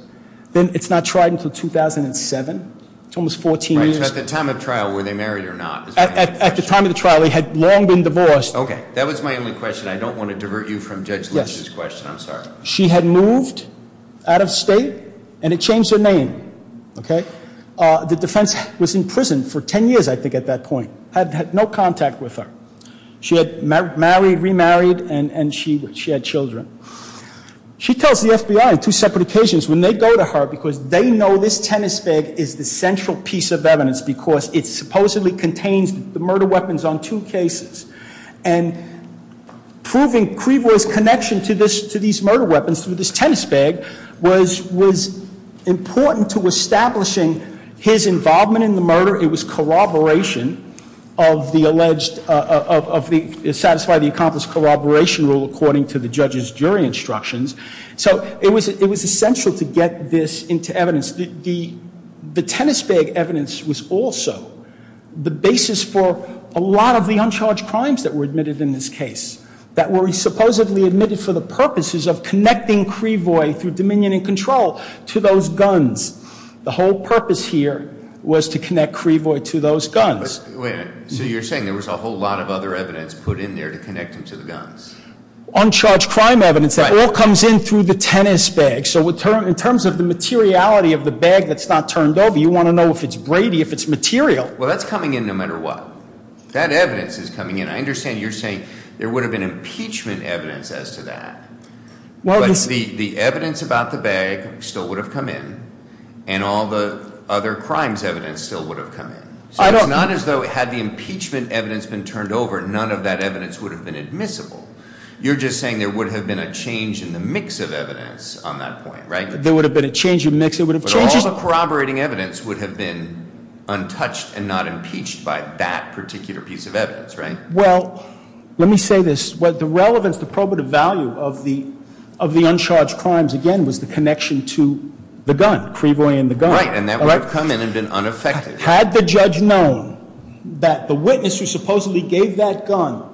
It's not tried until 2007. It's almost 14 years. So at the time of trial, were they married or not? At the time of the trial, they had long been divorced. Okay, that was my only question. I don't want to divert you from Judge Leach's question. I'm sorry. She had moved out of state and had changed her name. The defense was in prison for 10 years, I think, at that point. Had no contact with her. She had married, remarried, and she had children. She tells the FBI, on two separate occasions, when they go to her because they know this tennis bag is the central piece of evidence because it supposedly contains the murder weapons on two cases. And proving Creeboy's connection to these murder weapons was important to establishing his involvement in the murder. It was corroboration of the alleged... to satisfy the accomplished corroboration rule according to the judge's jury instructions. So it was essential to get this into evidence. The tennis bag evidence was also the basis for a lot of the uncharged crimes that were admitted in this case that were supposedly admitted for the purposes of connecting Creeboy through dominion and control to those guns. The whole purpose here was to connect Creeboy to those guns. Wait a minute. So you're saying there was a whole lot of other evidence put in there to connect him to the guns? Uncharged crime evidence. That all comes in through the tennis bag. So in terms of the materiality of the bag that's not turned over, you want to know if it's Brady, if it's material. Well, that's coming in no matter what. That evidence is coming in. I understand you're saying there would have been impeachment evidence as to that. But the evidence about the bag still would have come in and all the other crimes evidence still would have come in. So it's not as though it had the impeachment evidence been turned over and none of that evidence would have been admissible. You're just saying there would have been a change in the mix of evidence on that point, right? There would have been a change in the mix. But all the corroborating evidence would have been untouched and not impeached by that particular piece of evidence, right? Well, let me say this. The relevance, the probative value of the uncharged crimes, again, was the connection to the gun, pre-bullying the gun. Right, and that would have come in and been unaffected. Had the judge known that the witness who supposedly gave that gun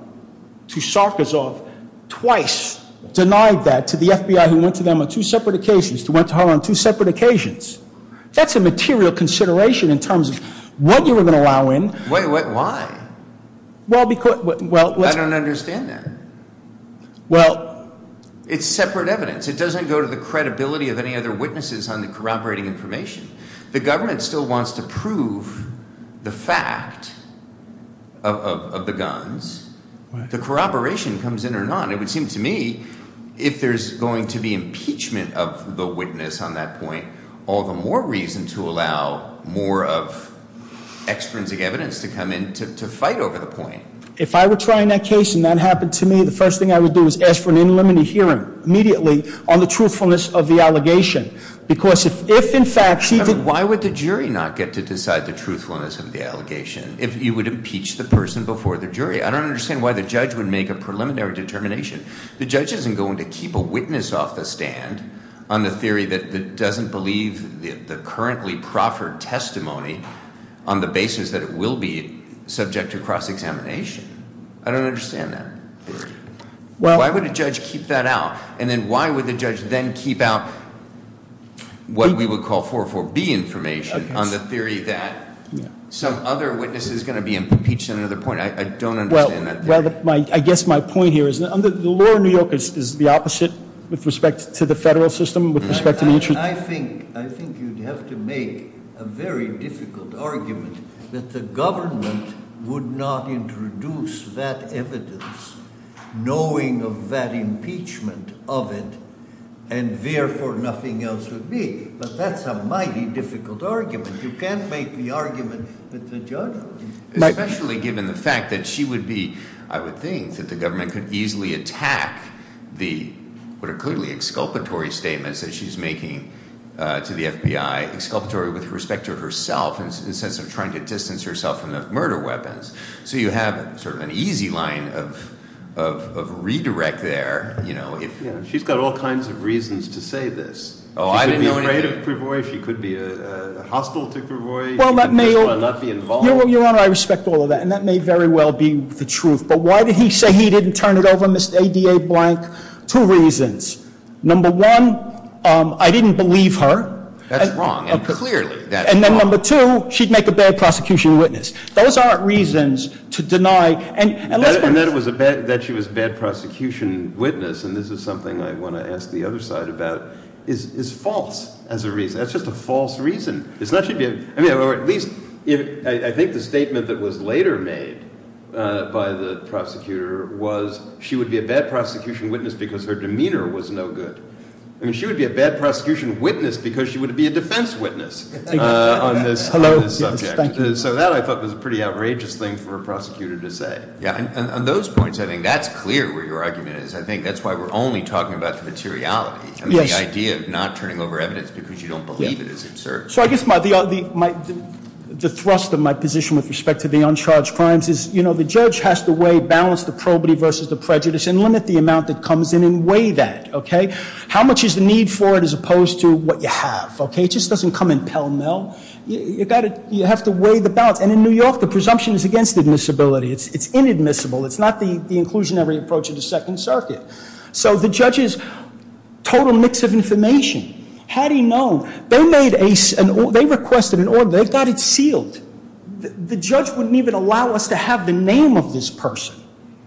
to Sarkisov twice denied that to the FBI who went to them on two separate occasions, who went to Holland on two separate occasions, that's a material consideration in terms of what you were going to allow in. Why? Well, because... I don't understand that. Well... It's separate evidence. It doesn't go to the credibility of any other witnesses on the corroborating information. The government still wants to prove the fact of the guns. The corroboration comes in or not. It would seem to me if there's going to be impeachment of the witness on that point, all the more reason to allow more of extrinsic evidence to come in to fight over the point. If I were trying that case and that happened to me, the first thing I would do is ask for an in limited hearing, immediately, on the truthfulness of the allegation. Because if, in fact... Why would the jury not get to decide the truthfulness of the allegation if you would impeach the person before the jury? I don't understand why the judge would make a preliminary determination. The judge isn't going to keep a witness off the stand on the theory that doesn't believe the currently proffered testimony on the basis that it will be subject to cross-examination. I don't understand that. Why would a judge keep that out? And then why would the judge then keep out what we would call 4.4.B information on the theory that some other witness is going to be impeached on another point? I don't understand that. I guess my point here is the law in New York is the opposite with respect to the federal system, with respect to each... I think you'd have to make a very difficult argument that the government would not introduce that evidence knowing of that impeachment of it and therefore nothing else would be. But that's a mighty difficult argument. You can't make the argument that the judge would. Especially given the fact that she would be... I would think that the government could easily attack the clearly exculpatory statements that she's making to the FBI. Exculpatory with respect to herself in the sense of trying to distance herself from the murder weapons. So you have sort of an easy line of redirect there. She's got all kinds of reasons to say this. Oh, I didn't know any of it. She could be a hostile superboy. Your Honor, I respect all of that. And that may very well be the truth. But why did he say he didn't turn it over, Ms. A.D.A. Blank? Two reasons. Number one, I didn't believe her. That's wrong, and clearly that's wrong. And then number two, she'd make a bad prosecution witness. Those aren't reasons to deny... And that she was a bad prosecution witness, and this is something I want to ask the other side about, is false as a reason. That's just a false reason. I think the statement that was later made by the prosecutor was she would be a bad prosecution witness because her demeanor was no good. She would be a bad prosecution witness because she would be a defense witness on this subject. So that I thought was a pretty outrageous thing for a prosecutor to say. On those points, I think that's clear where your argument is. I think that's why we're only talking about the materiality. The idea of not turning over evidence So I guess the thrust of my position with respect to the uncharged crimes is the judge has to weigh balance, the probity versus the prejudice, and limit the amount that comes in and weigh that. How much is the need for it as opposed to what you have? It just doesn't come in pell-mell. You have to weigh the balance. And in New York, the presumption is against admissibility. It's inadmissible. It's not the inclusionary approach of the Second Circuit. So the judge is a total mix of information. How do you know? They requested an order. They've got it sealed. The judge wouldn't even allow us to have the name of this person.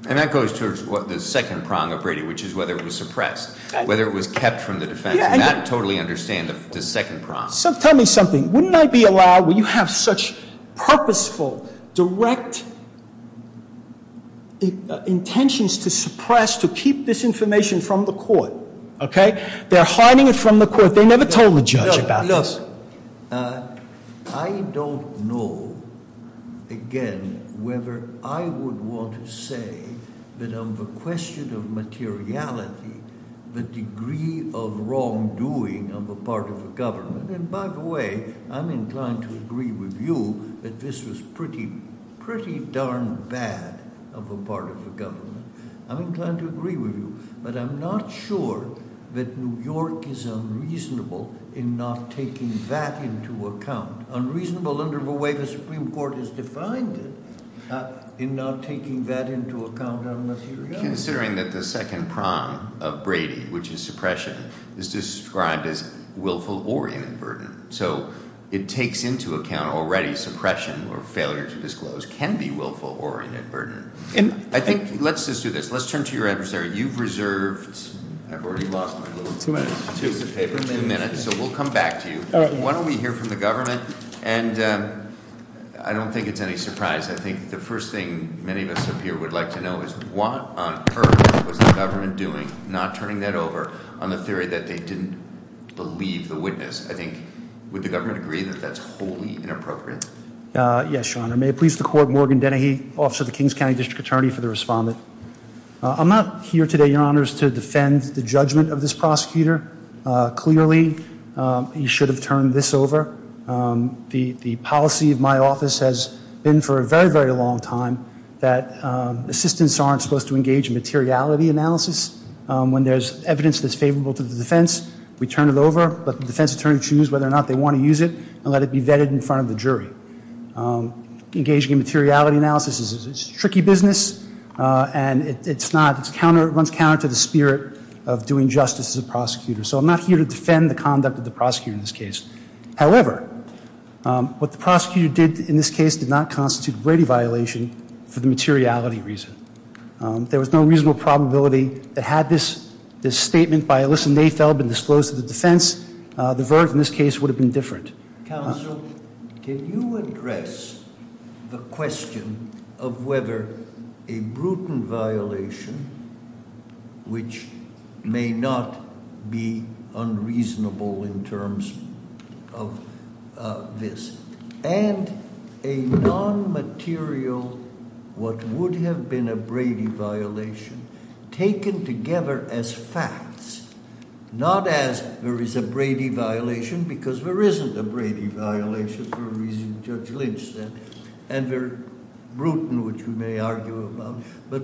And that goes to the second prong of Brady, which is whether it was suppressed, whether it was kept from the defense. I do not totally understand the second prong. Tell me something. Wouldn't I be allowed, when you have such purposeful, direct intentions to suppress, to keep this information from the court? They're hiding it from the court. They never told the judge about this. Look, I don't know, again, whether I would want to say that on the question of materiality, the degree of wrongdoing on the part of the government, and by the way, I'm inclined to agree with you that this was pretty darn bad on the part of the government. I'm inclined to agree with you. But I'm not sure that New York is unreasonable in not taking that into account. Unreasonable under the way the Supreme Court has defined it. In not taking that into account, I'm not sure. Considering that the second prong of Brady, which is suppression, is described as willful oriented burden. So it takes into account already suppression or failure to disclose can be willful oriented burden. Let's just do this. Let's turn to your adversary. You've reserved a few minutes, so we'll come back to you. Why don't we hear from the government? And I don't think it's any surprise. I think the first thing many of us up here would like to know is what on earth was the government doing, not turning that over on the theory that they didn't believe the witness. I think would the government agree that that's wholly inappropriate? Yes, Your Honor. May I please record Morgan Dennehy, officer of the Kings County District Attorney, for the respondent. I'm not here today, Your Honor, to defend the judgment of this prosecutor. Clearly, you should have turned this over. The policy of my office has been for a very, very long time that assistants aren't supposed to engage in materiality analysis. When there's evidence that's favorable to the defense, we turn it over, but the defense attorney chooses whether or not they want to use it and let it be vetted in front of the jury. Engaging in materiality analysis is a tricky business, and it runs counter to the spirit of doing justice as a prosecutor. So I'm not here to defend the conduct of the prosecutor in this case. However, what the prosecutor did in this case did not constitute a brevity violation for the materiality reason. There was no reasonable probability that had this statement by Alyssa Mayfeld been disclosed to the defense, the verdict in this case would have been different. Counsel, can you address the question of whether a brutal violation, which may not be unreasonable in terms of this, and a non-material, what would have been a brevity violation, taken together as facts, not as there is a brevity violation because there isn't a brevity violation for a reason Judge Lynch said, and they're brutal, which we may argue about, but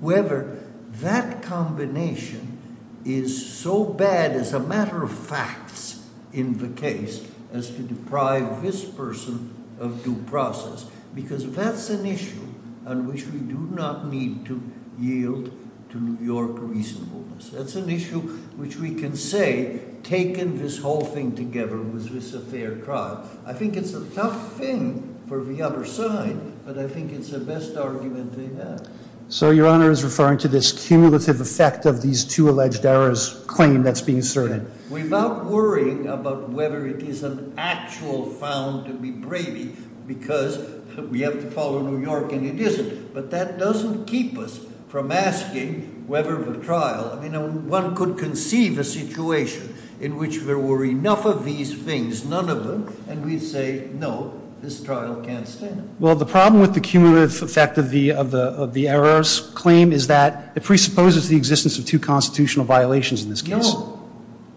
whether that combination is so bad as a matter of facts in the case as to deprive this person of due process, because that's an issue on which we do not need to yield to your reasonableness. That's an issue which we can say taken this whole thing together, was this a fair trial? I think it's a tough thing for the other side, but I think it's the best argument in that. So your honor is referring to this cumulative effect of these two alleged errors claim that's being asserted. Without worrying about whether it is an actual found to be brevity because we have to follow New York and it isn't, but that doesn't keep us from asking whether the trial, I mean, one could conceive a situation in which there were enough of these things, but there is none of them, and we say, no, this trial can't stand. Well, the problem with the cumulative effect of the errors claim is that it presupposes the existence of two constitutional violations in this case. No,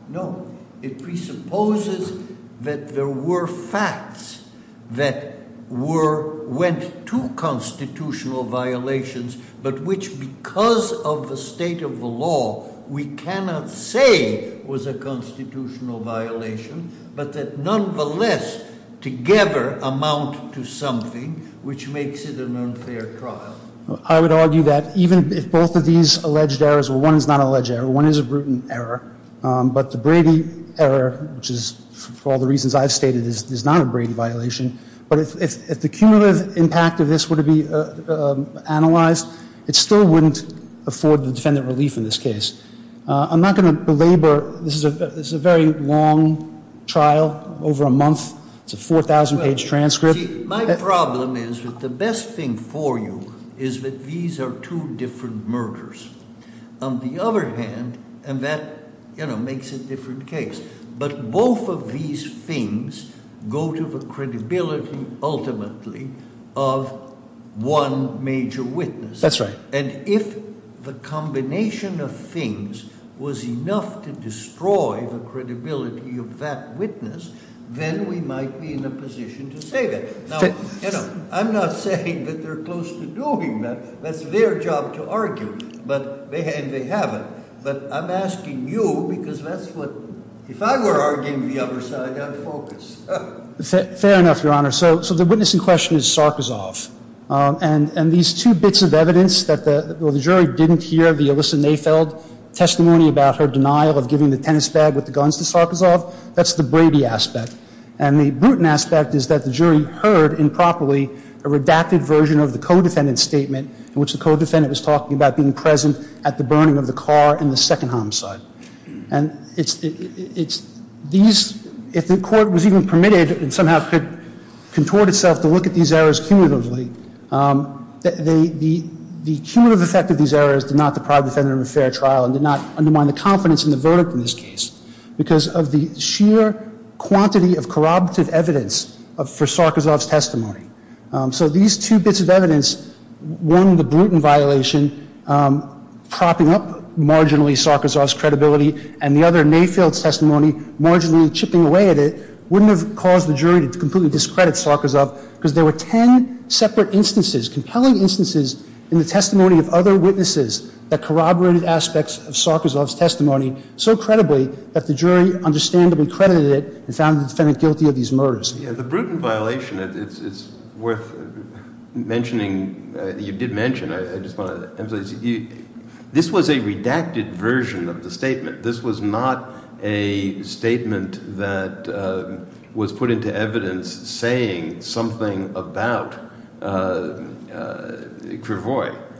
no. It presupposes that there were facts that went to constitutional violations, but which because of the state of the law, we cannot say was a constitutional violation, but that nonetheless together amount to something which makes it an unfair trial. I would argue that even if both of these alleged errors, well, one is not an alleged error, one is a written error, but the Brady error, which is for all the reasons I've stated, is not a Brady violation, but if the cumulative impact of this were to be analyzed, it still wouldn't afford the defendant relief in this case. I'm not going to belabor. This is a very long trial, over a month. It's a 4,000 page transcript. My problem is that the best thing for you is that these are two different murders. On the other hand, and that makes a different case, but both of these things go to the credibility ultimately of one major witness. That's right. And if the combination of things was enough to destroy the credibility of that witness, then we might be in a position to say that. Now, I'm not saying that they're supposed to do anything. That's their job to argue. But they haven't. But I'm asking you because that's what, if I were arguing the other side, I'd focus. Fair enough, Your Honor. So the witness in question is Sarkisov. And these two bits of evidence that the jury didn't hear, the Alyssa Mayfeld testimony about her denial of giving the tennis bag with the guns to Sarkisov, that's the Brady aspect. And the Bruton aspect is that the jury heard improperly a redacted version of the co-defendant statement, in which the co-defendant is talking about being present at the burning of the car in the second homicide. And if the court was even permitted, it somehow could contort itself to look at these errors cumulatively. The cumulative effect of these errors did not deprive the defendant of a fair trial and did not undermine the confidence in the verdict in this case because of the sheer quantity of corroborative evidence for Sarkisov's testimony. So these two bits of evidence, one, the Bruton violation, propping up marginally Sarkisov's credibility, and the other, Mayfeld's testimony, marginally chipping away at it, wouldn't have caused the jury to completely discredit Sarkisov because there were 10 separate instances, compelling instances in the testimony of other witnesses that corroborated aspects of Sarkisov's testimony so credibly that the jury understandably credited it and found the defendant guilty of these murders. The Bruton violation, it's worth mentioning, you did mention, I just want to emphasize, this was a redacted version of the statement. This was not a statement that was put into evidence saying something about Gravois.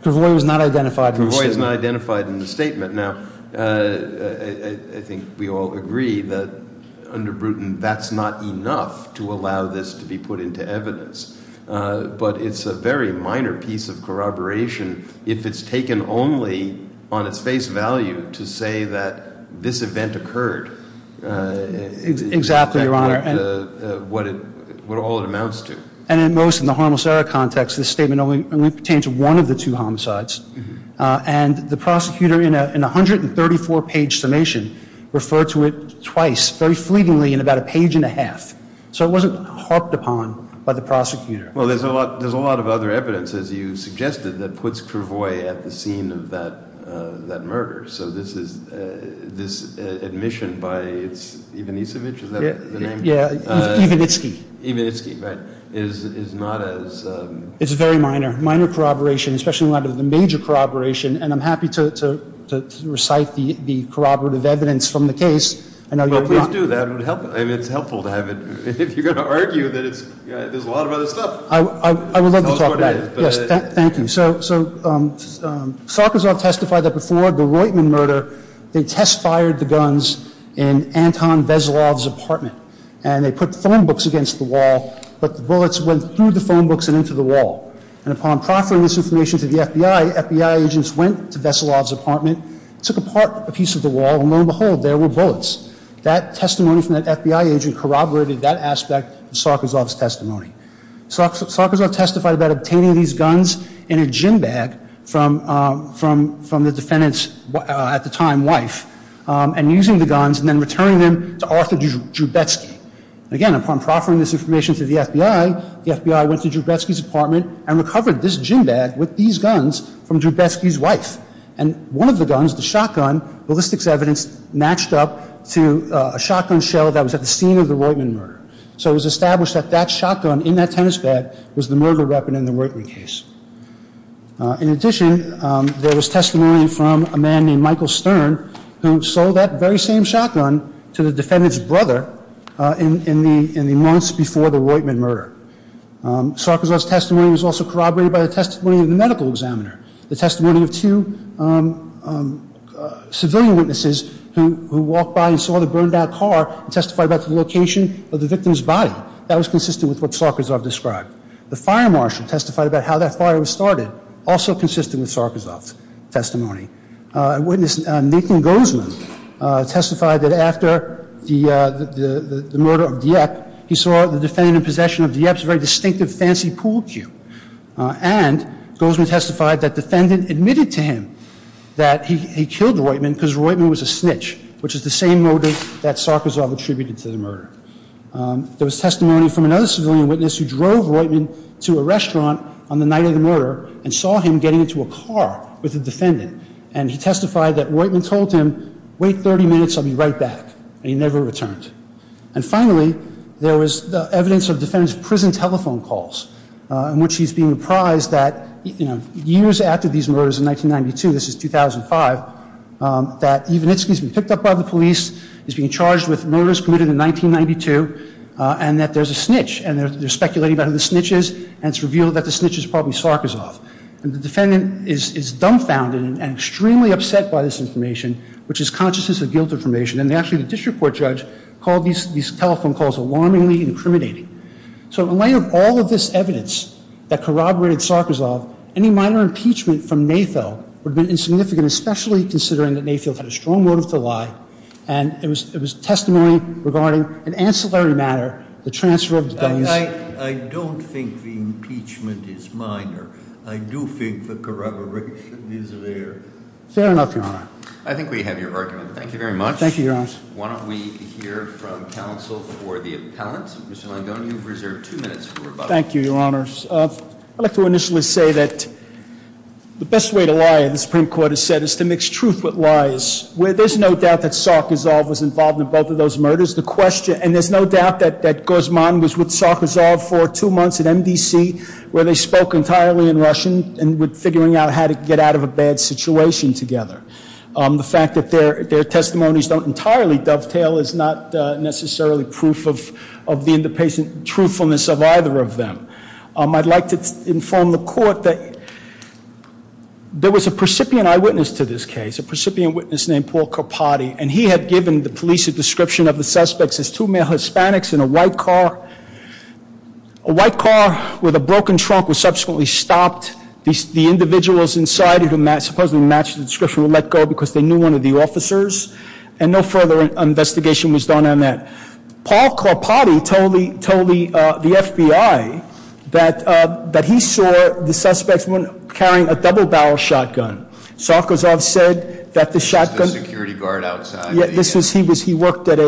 Gravois was not identified in the statement. Gravois was not identified in the statement. Now, I think we all agree that under Bruton that's not enough to allow this to be put into evidence. But it's a very minor piece of corroboration if it's taken only on a face value to say that this event occurred. Exactly, Your Honor. What all it amounts to. And in most of the homicidal context, this statement only pertains to one of the two homicides. And the prosecutor in a 134-page summation referred to it twice, very fleetingly, in about a page and a half. So it wasn't harped upon by the prosecutor. Well, there's a lot of other evidence, as you suggested, that puts Gravois at the scene of that murder. So this admission by Ivanitsky is not as... It's very minor. Minor corroboration, especially in light of the major corroboration. And I'm happy to recite the corroborative evidence from the case. Well, please do. That would help. I mean, it's helpful to have it. If you're going to argue, there's a lot of other stuff. I would love to talk about it. Yes, thank you. So Salkozov testified that before the Roitman murder, they test-fired the guns in Anton Veselov's apartment. And they put phone books against the wall, but the bullets went through the phone books and into the wall. And upon proctoring this information to the FBI, the FBI agents went to Veselov's apartment, took apart a piece of the wall, and lo and behold, there were bullets. of Salkozov's testimony. Salkozov testified about obtaining these guns in a gym bag from the defendant's, at the time, wife, and using the guns and then returning them to Arthur Joubecki. Again, upon proctoring this information to the FBI, the FBI went to Joubecki's apartment and recovered this gym bag with these guns from Joubecki's wife. And one of the guns, the shotgun, the list of evidence matched up to a shotgun shell that was at the scene of the Roitman murder. So it was established that that shotgun in that tennis bat was the murder weapon in the Roitman case. In addition, there was testimony from a man named Michael Stern who sold that very same shotgun to the defendant's brother in the months before the Roitman murder. Salkozov's testimony was also corroborated by the testimony of the medical examiner, the testimony of two civilian witnesses who walked by and saw the burned-out car and testified about the location of the victim's body. That was consistent with what Salkozov described. The fire marshal testified about how that fire was started, also consistent with Salkozov's testimony. A witness, Nathan Gozman, testified that after the murder of Dieppe, he saw the defendant in possession of Dieppe's very distinctive fancy pool cue. And Gozman testified that the defendant admitted to him that he killed Roitman because Roitman was a snitch, which is the same motive that Salkozov attributed to the murder. There was testimony from another civilian witness who drove Roitman to a restaurant on the night of the murder and saw him getting into a car with a defendant. And he testified that Roitman told him, wait 30 minutes, I'll be right back. And he never returned. And finally, there was evidence of defendant's prison telephone calls in which he's being reprised that years after these murders in 1992, this is 2005, that Ivanitsky's been picked up by the police, he's being charged with murders committed in 1992, and that there's a snitch. And they're speculating about who the snitch is, and it's revealed that the snitch is probably Salkozov. And the defendant is dumbfounded and extremely upset by this information, which is consciousness of guilt information. And actually, the district court judge called these telephone calls alarmingly incriminating. So in light of all of this evidence that corroborated Salkozov, any minor impeachment from Mayfield would have been insignificant, especially considering that Mayfield had a strong motive to lie. And it was testimony regarding an ancillary matter, the transfer of the guns. I don't think the impeachment is minor. I do think the corroboration is there. Fair enough, Your Honor. I think we have your argument. Thank you very much. Thank you, Your Honor. Why don't we hear from counsel before the appellants. Mr. Longone, you have reserved two minutes for rebuttal. Thank you, Your Honor. I'd like to initially say that the best way to lie, as the Supreme Court has said, is to mix truth with lies. There's no doubt that Salkozov was involved in both of those murders. And there's no doubt that Guzman was with Salkozov for two months at NBC, where they spoke entirely in Russian and were figuring out how to get out of a bad situation together. The fact that their testimonies don't entirely dovetail is not necessarily proof of the independent truthfulness of either of them. I'd like to inform the court that there was a precipient eyewitness to this case, a precipient witness named Paul Carpati, and he had given the police a description of the suspects as two male Hispanics in a white car. A white car with a broken trunk was subsequently stopped. The individuals inside it, supposedly matched the description, were let go because they knew one of the officers. And no further investigation was done on that. Paul Carpati told the FBI that he saw the suspects carrying a double-barrel shotgun. Salkozov said that the shotgun... There was a security guard outside. He worked at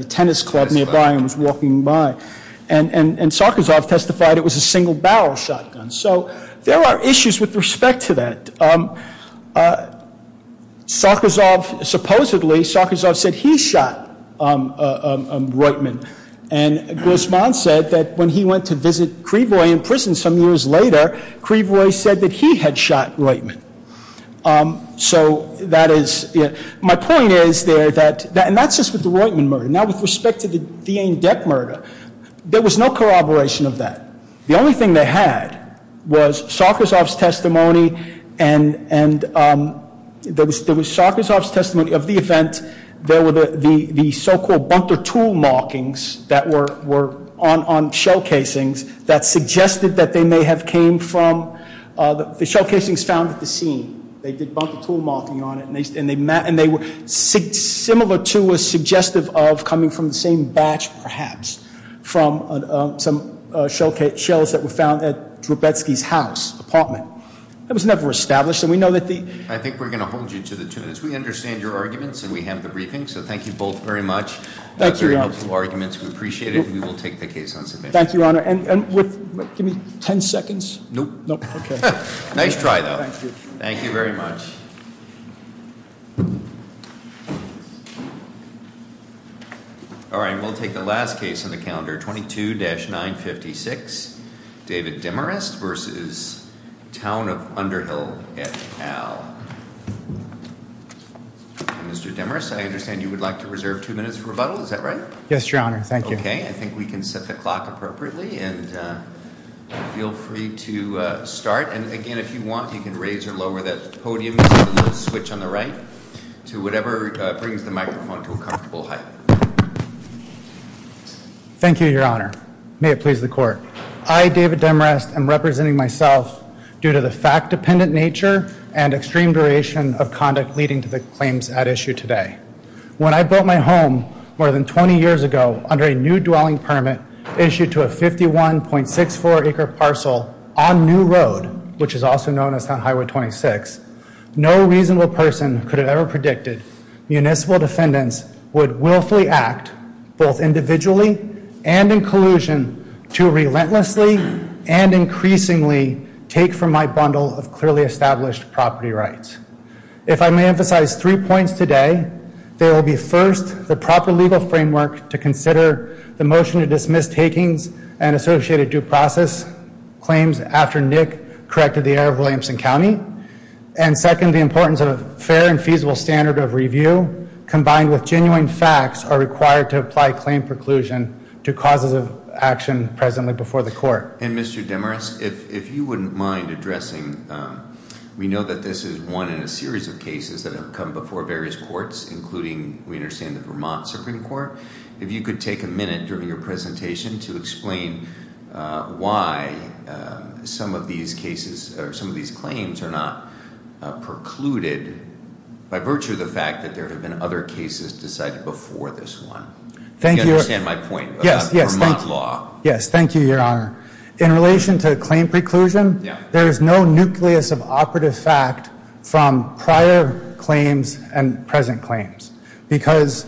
a tennis club nearby and was walking by. And Salkozov testified it was a single-barrel shotgun. So there are issues with respect to that. Supposedly, Salkozov said he shot Reutemann. And Griezmann said that when he went to visit Creeboy in prison some years later, Creeboy said that he had shot Reutemann. So that is... My point is there that... And that's just with the Reutemann murder. Now, with respect to the Dieng-Deck murder, there was no corroboration of that. The only thing they had was Salkozov's testimony and there was Salkozov's testimony of the event. There were the so-called bumper tool markings that were on shell casings that suggested that they may have came from... The shell casing is found at the scene. They did bumper tool marking on it, and they were similar to a suggestive of coming from the same batch, perhaps, from some shells that were found at Grubetzky's house, apartment. It was never established, and we know that the... I think we're going to hold you to the truth. We understand your arguments, and we have the briefing, so thank you both very much. Thank you, Your Honor. Very helpful arguments. We appreciate it. We will take the case on submission. Thank you, Your Honor. Give me 10 seconds? Nope. Okay. Nice try, though. Thank you. Thank you very much. All right, and we'll take the last case on the calendar, 22-956, David Demarest versus Town of Underhill et al. Mr. Demarest, I understand you would like to reserve two minutes for rebuttal. Is that right? Yes, Your Honor. Thank you. Okay, I think we can set the clock appropriately, and feel free to start. And, again, if you want, you can raise or lower that podium switch on the right to whatever brings the microphone to a comfortable height. Thank you, Your Honor. May it please the Court. I, David Demarest, am representing myself due to the fact-dependent nature and extreme variation of conduct leading to the claims at issue today. When I built my home more than 20 years ago under a new dwelling permit issued to a 51.64-acre parcel on New Road, which is also known as High Road 26, no reasonable person could have ever predicted municipal defendants would willfully act both individually and in collusion to relentlessly and increasingly take from my bundle of clearly established property rights. If I may emphasize three points today, they will be, first, the proper legal framework to consider the motion to dismiss takings and associated due process claims after Nick corrected the error of Williamson County, and, second, the importance of a fair and feasible standard of review combined with genuine facts are required to apply claim preclusion to causative action presently before the Court. And, Mr. Demarest, if you wouldn't mind addressing... We know that this is one in a series of cases that have come before various courts, including, we understand, the Vermont Supreme Court. If you could take a minute during your presentation to explain why some of these cases, or some of these claims, are not precluded by virtue of the fact that there have been other cases decided before this one. Do you understand my point of Vermont law? Yes, thank you, Your Honor. In relation to claim preclusion, there is no nucleus of operative fact from prior claims and present claims because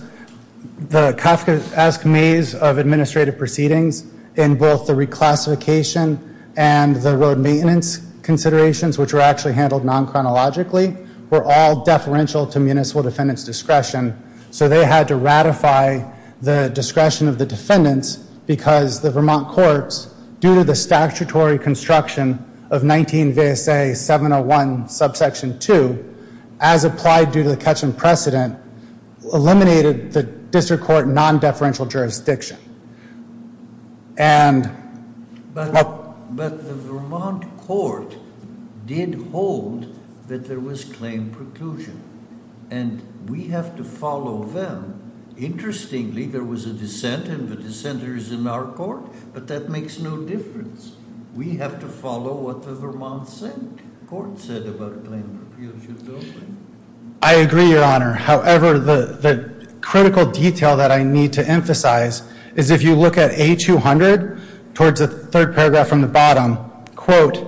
the Kafkaesque maze of administrative proceedings in both the reclassification and the road maintenance considerations, which were actually handled non-chronologically, were all deferential to municipal defendants' discretion. So they had to ratify the discretion of the defendants because the Vermont courts, due to the statutory construction of 19 VSA 701, subsection 2, as applied due to the catchment precedent, eliminated the district court non-deferential jurisdiction. But the Vermont court did hold that there was claim preclusion, and we have to follow them. Interestingly, there was a dissent, and the dissenter is in our court, but that makes no difference. We have to follow what the Vermont court said about claim preclusion. I agree, Your Honor. However, the critical detail that I need to emphasize is if you look at A200, towards the third paragraph from the bottom, quote,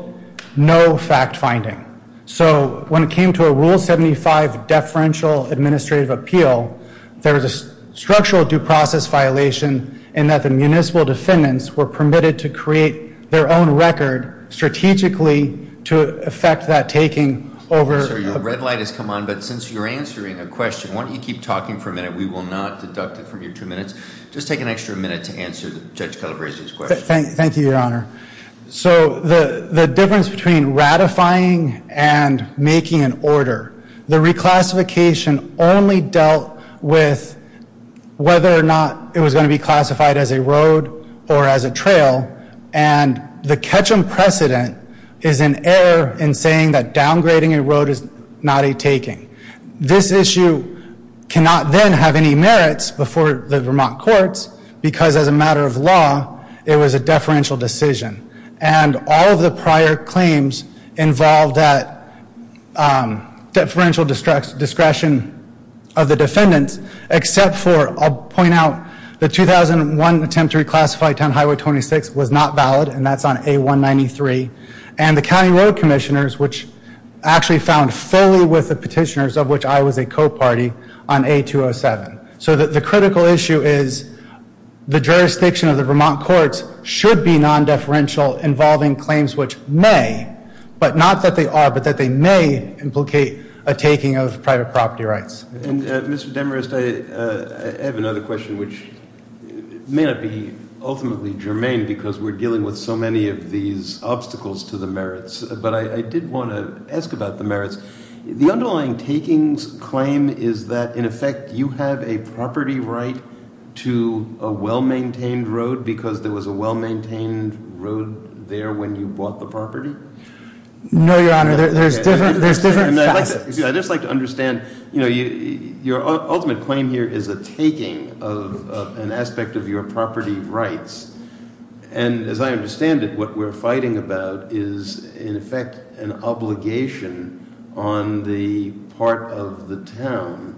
no fact-finding. So when it came to a Rule 75 deferential administrative appeal, there was a structural due process violation in that the municipal defendants were permitted to create their own record strategically to effect that taking over... Sir, your red light has come on, but since you're answering the question, why don't you keep talking for a minute? We will not deduct it from your two minutes. Just take an extra minute to answer Judge Kettlebury's question. Thank you, Your Honor. So the difference between ratifying and making an order, the reclassification only dealt with whether or not it was going to be classified as a road or as a trail, and the catch-em precedent is an error in saying that downgrading a road is not a taking. This issue cannot then have any merits before the Vermont courts, because as a matter of law, it was a deferential decision. And all of the prior claims involved that deferential discretion of the defendants, except for, I'll point out, the 2001 attempt to reclassify 10 Highway 26 was not valid, and that's on A193, and the County Road Commissioners, which actually found fully with the petitioners, of which I was a co-party, on A207. So the critical issue is the jurisdiction of the Vermont courts should be non-deferential involving claims which may, but not that they are, but that they may implicate a taking of private property rights. And Mr. Demarest, I have another question, which may not be ultimately germane because we're dealing with so many of these obstacles to the merits, but I did want to ask about the merits. The underlying takings claim is that, in effect, you have a property right to a well-maintained road because there was a well-maintained road there when you bought the property? No, Your Honor, there's different facts. I'd just like to understand, your ultimate claim here is a taking of an aspect of your property rights. And as I understand it, what we're fighting about is, in effect, an obligation on the part of the town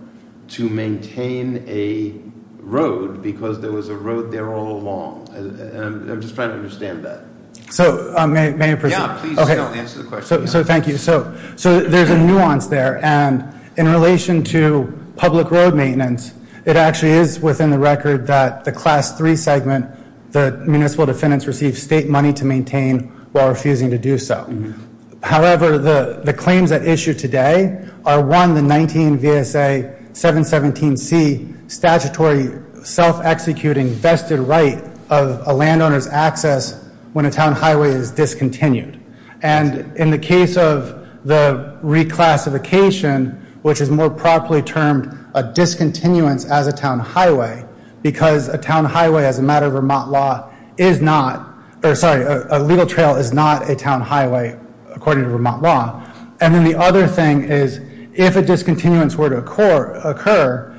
to maintain a road because there was a road there all along. I'm just trying to understand that. So, may I proceed? Yeah, please go ahead and answer the question. So, thank you. So, there's a nuance there, and in relation to public road maintenance, it actually is within the record that the Class 3 segment, the municipal defendants received state money to maintain while refusing to do so. However, the claims at issue today are, one, the 19 VSA 717C statutory self-executing vested right of a landowner's access when a town highway is discontinued. And in the case of the reclassification, which is more properly termed a discontinuance as a town highway because a town highway, as a matter of Vermont law, is not... Sorry, a legal trail is not a town highway, according to Vermont law. And then the other thing is, if a discontinuance were to occur,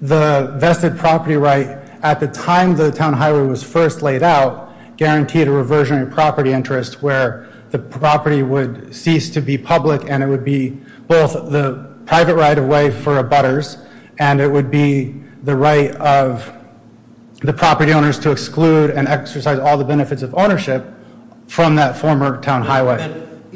the vested property right at the time the town highway was first laid out guaranteed a reversion in property interest where the property would cease to be public and it would be both the private right of way for abutters and it would be the right of the property owners to exclude and exercise all the benefits of ownership from that former town highway.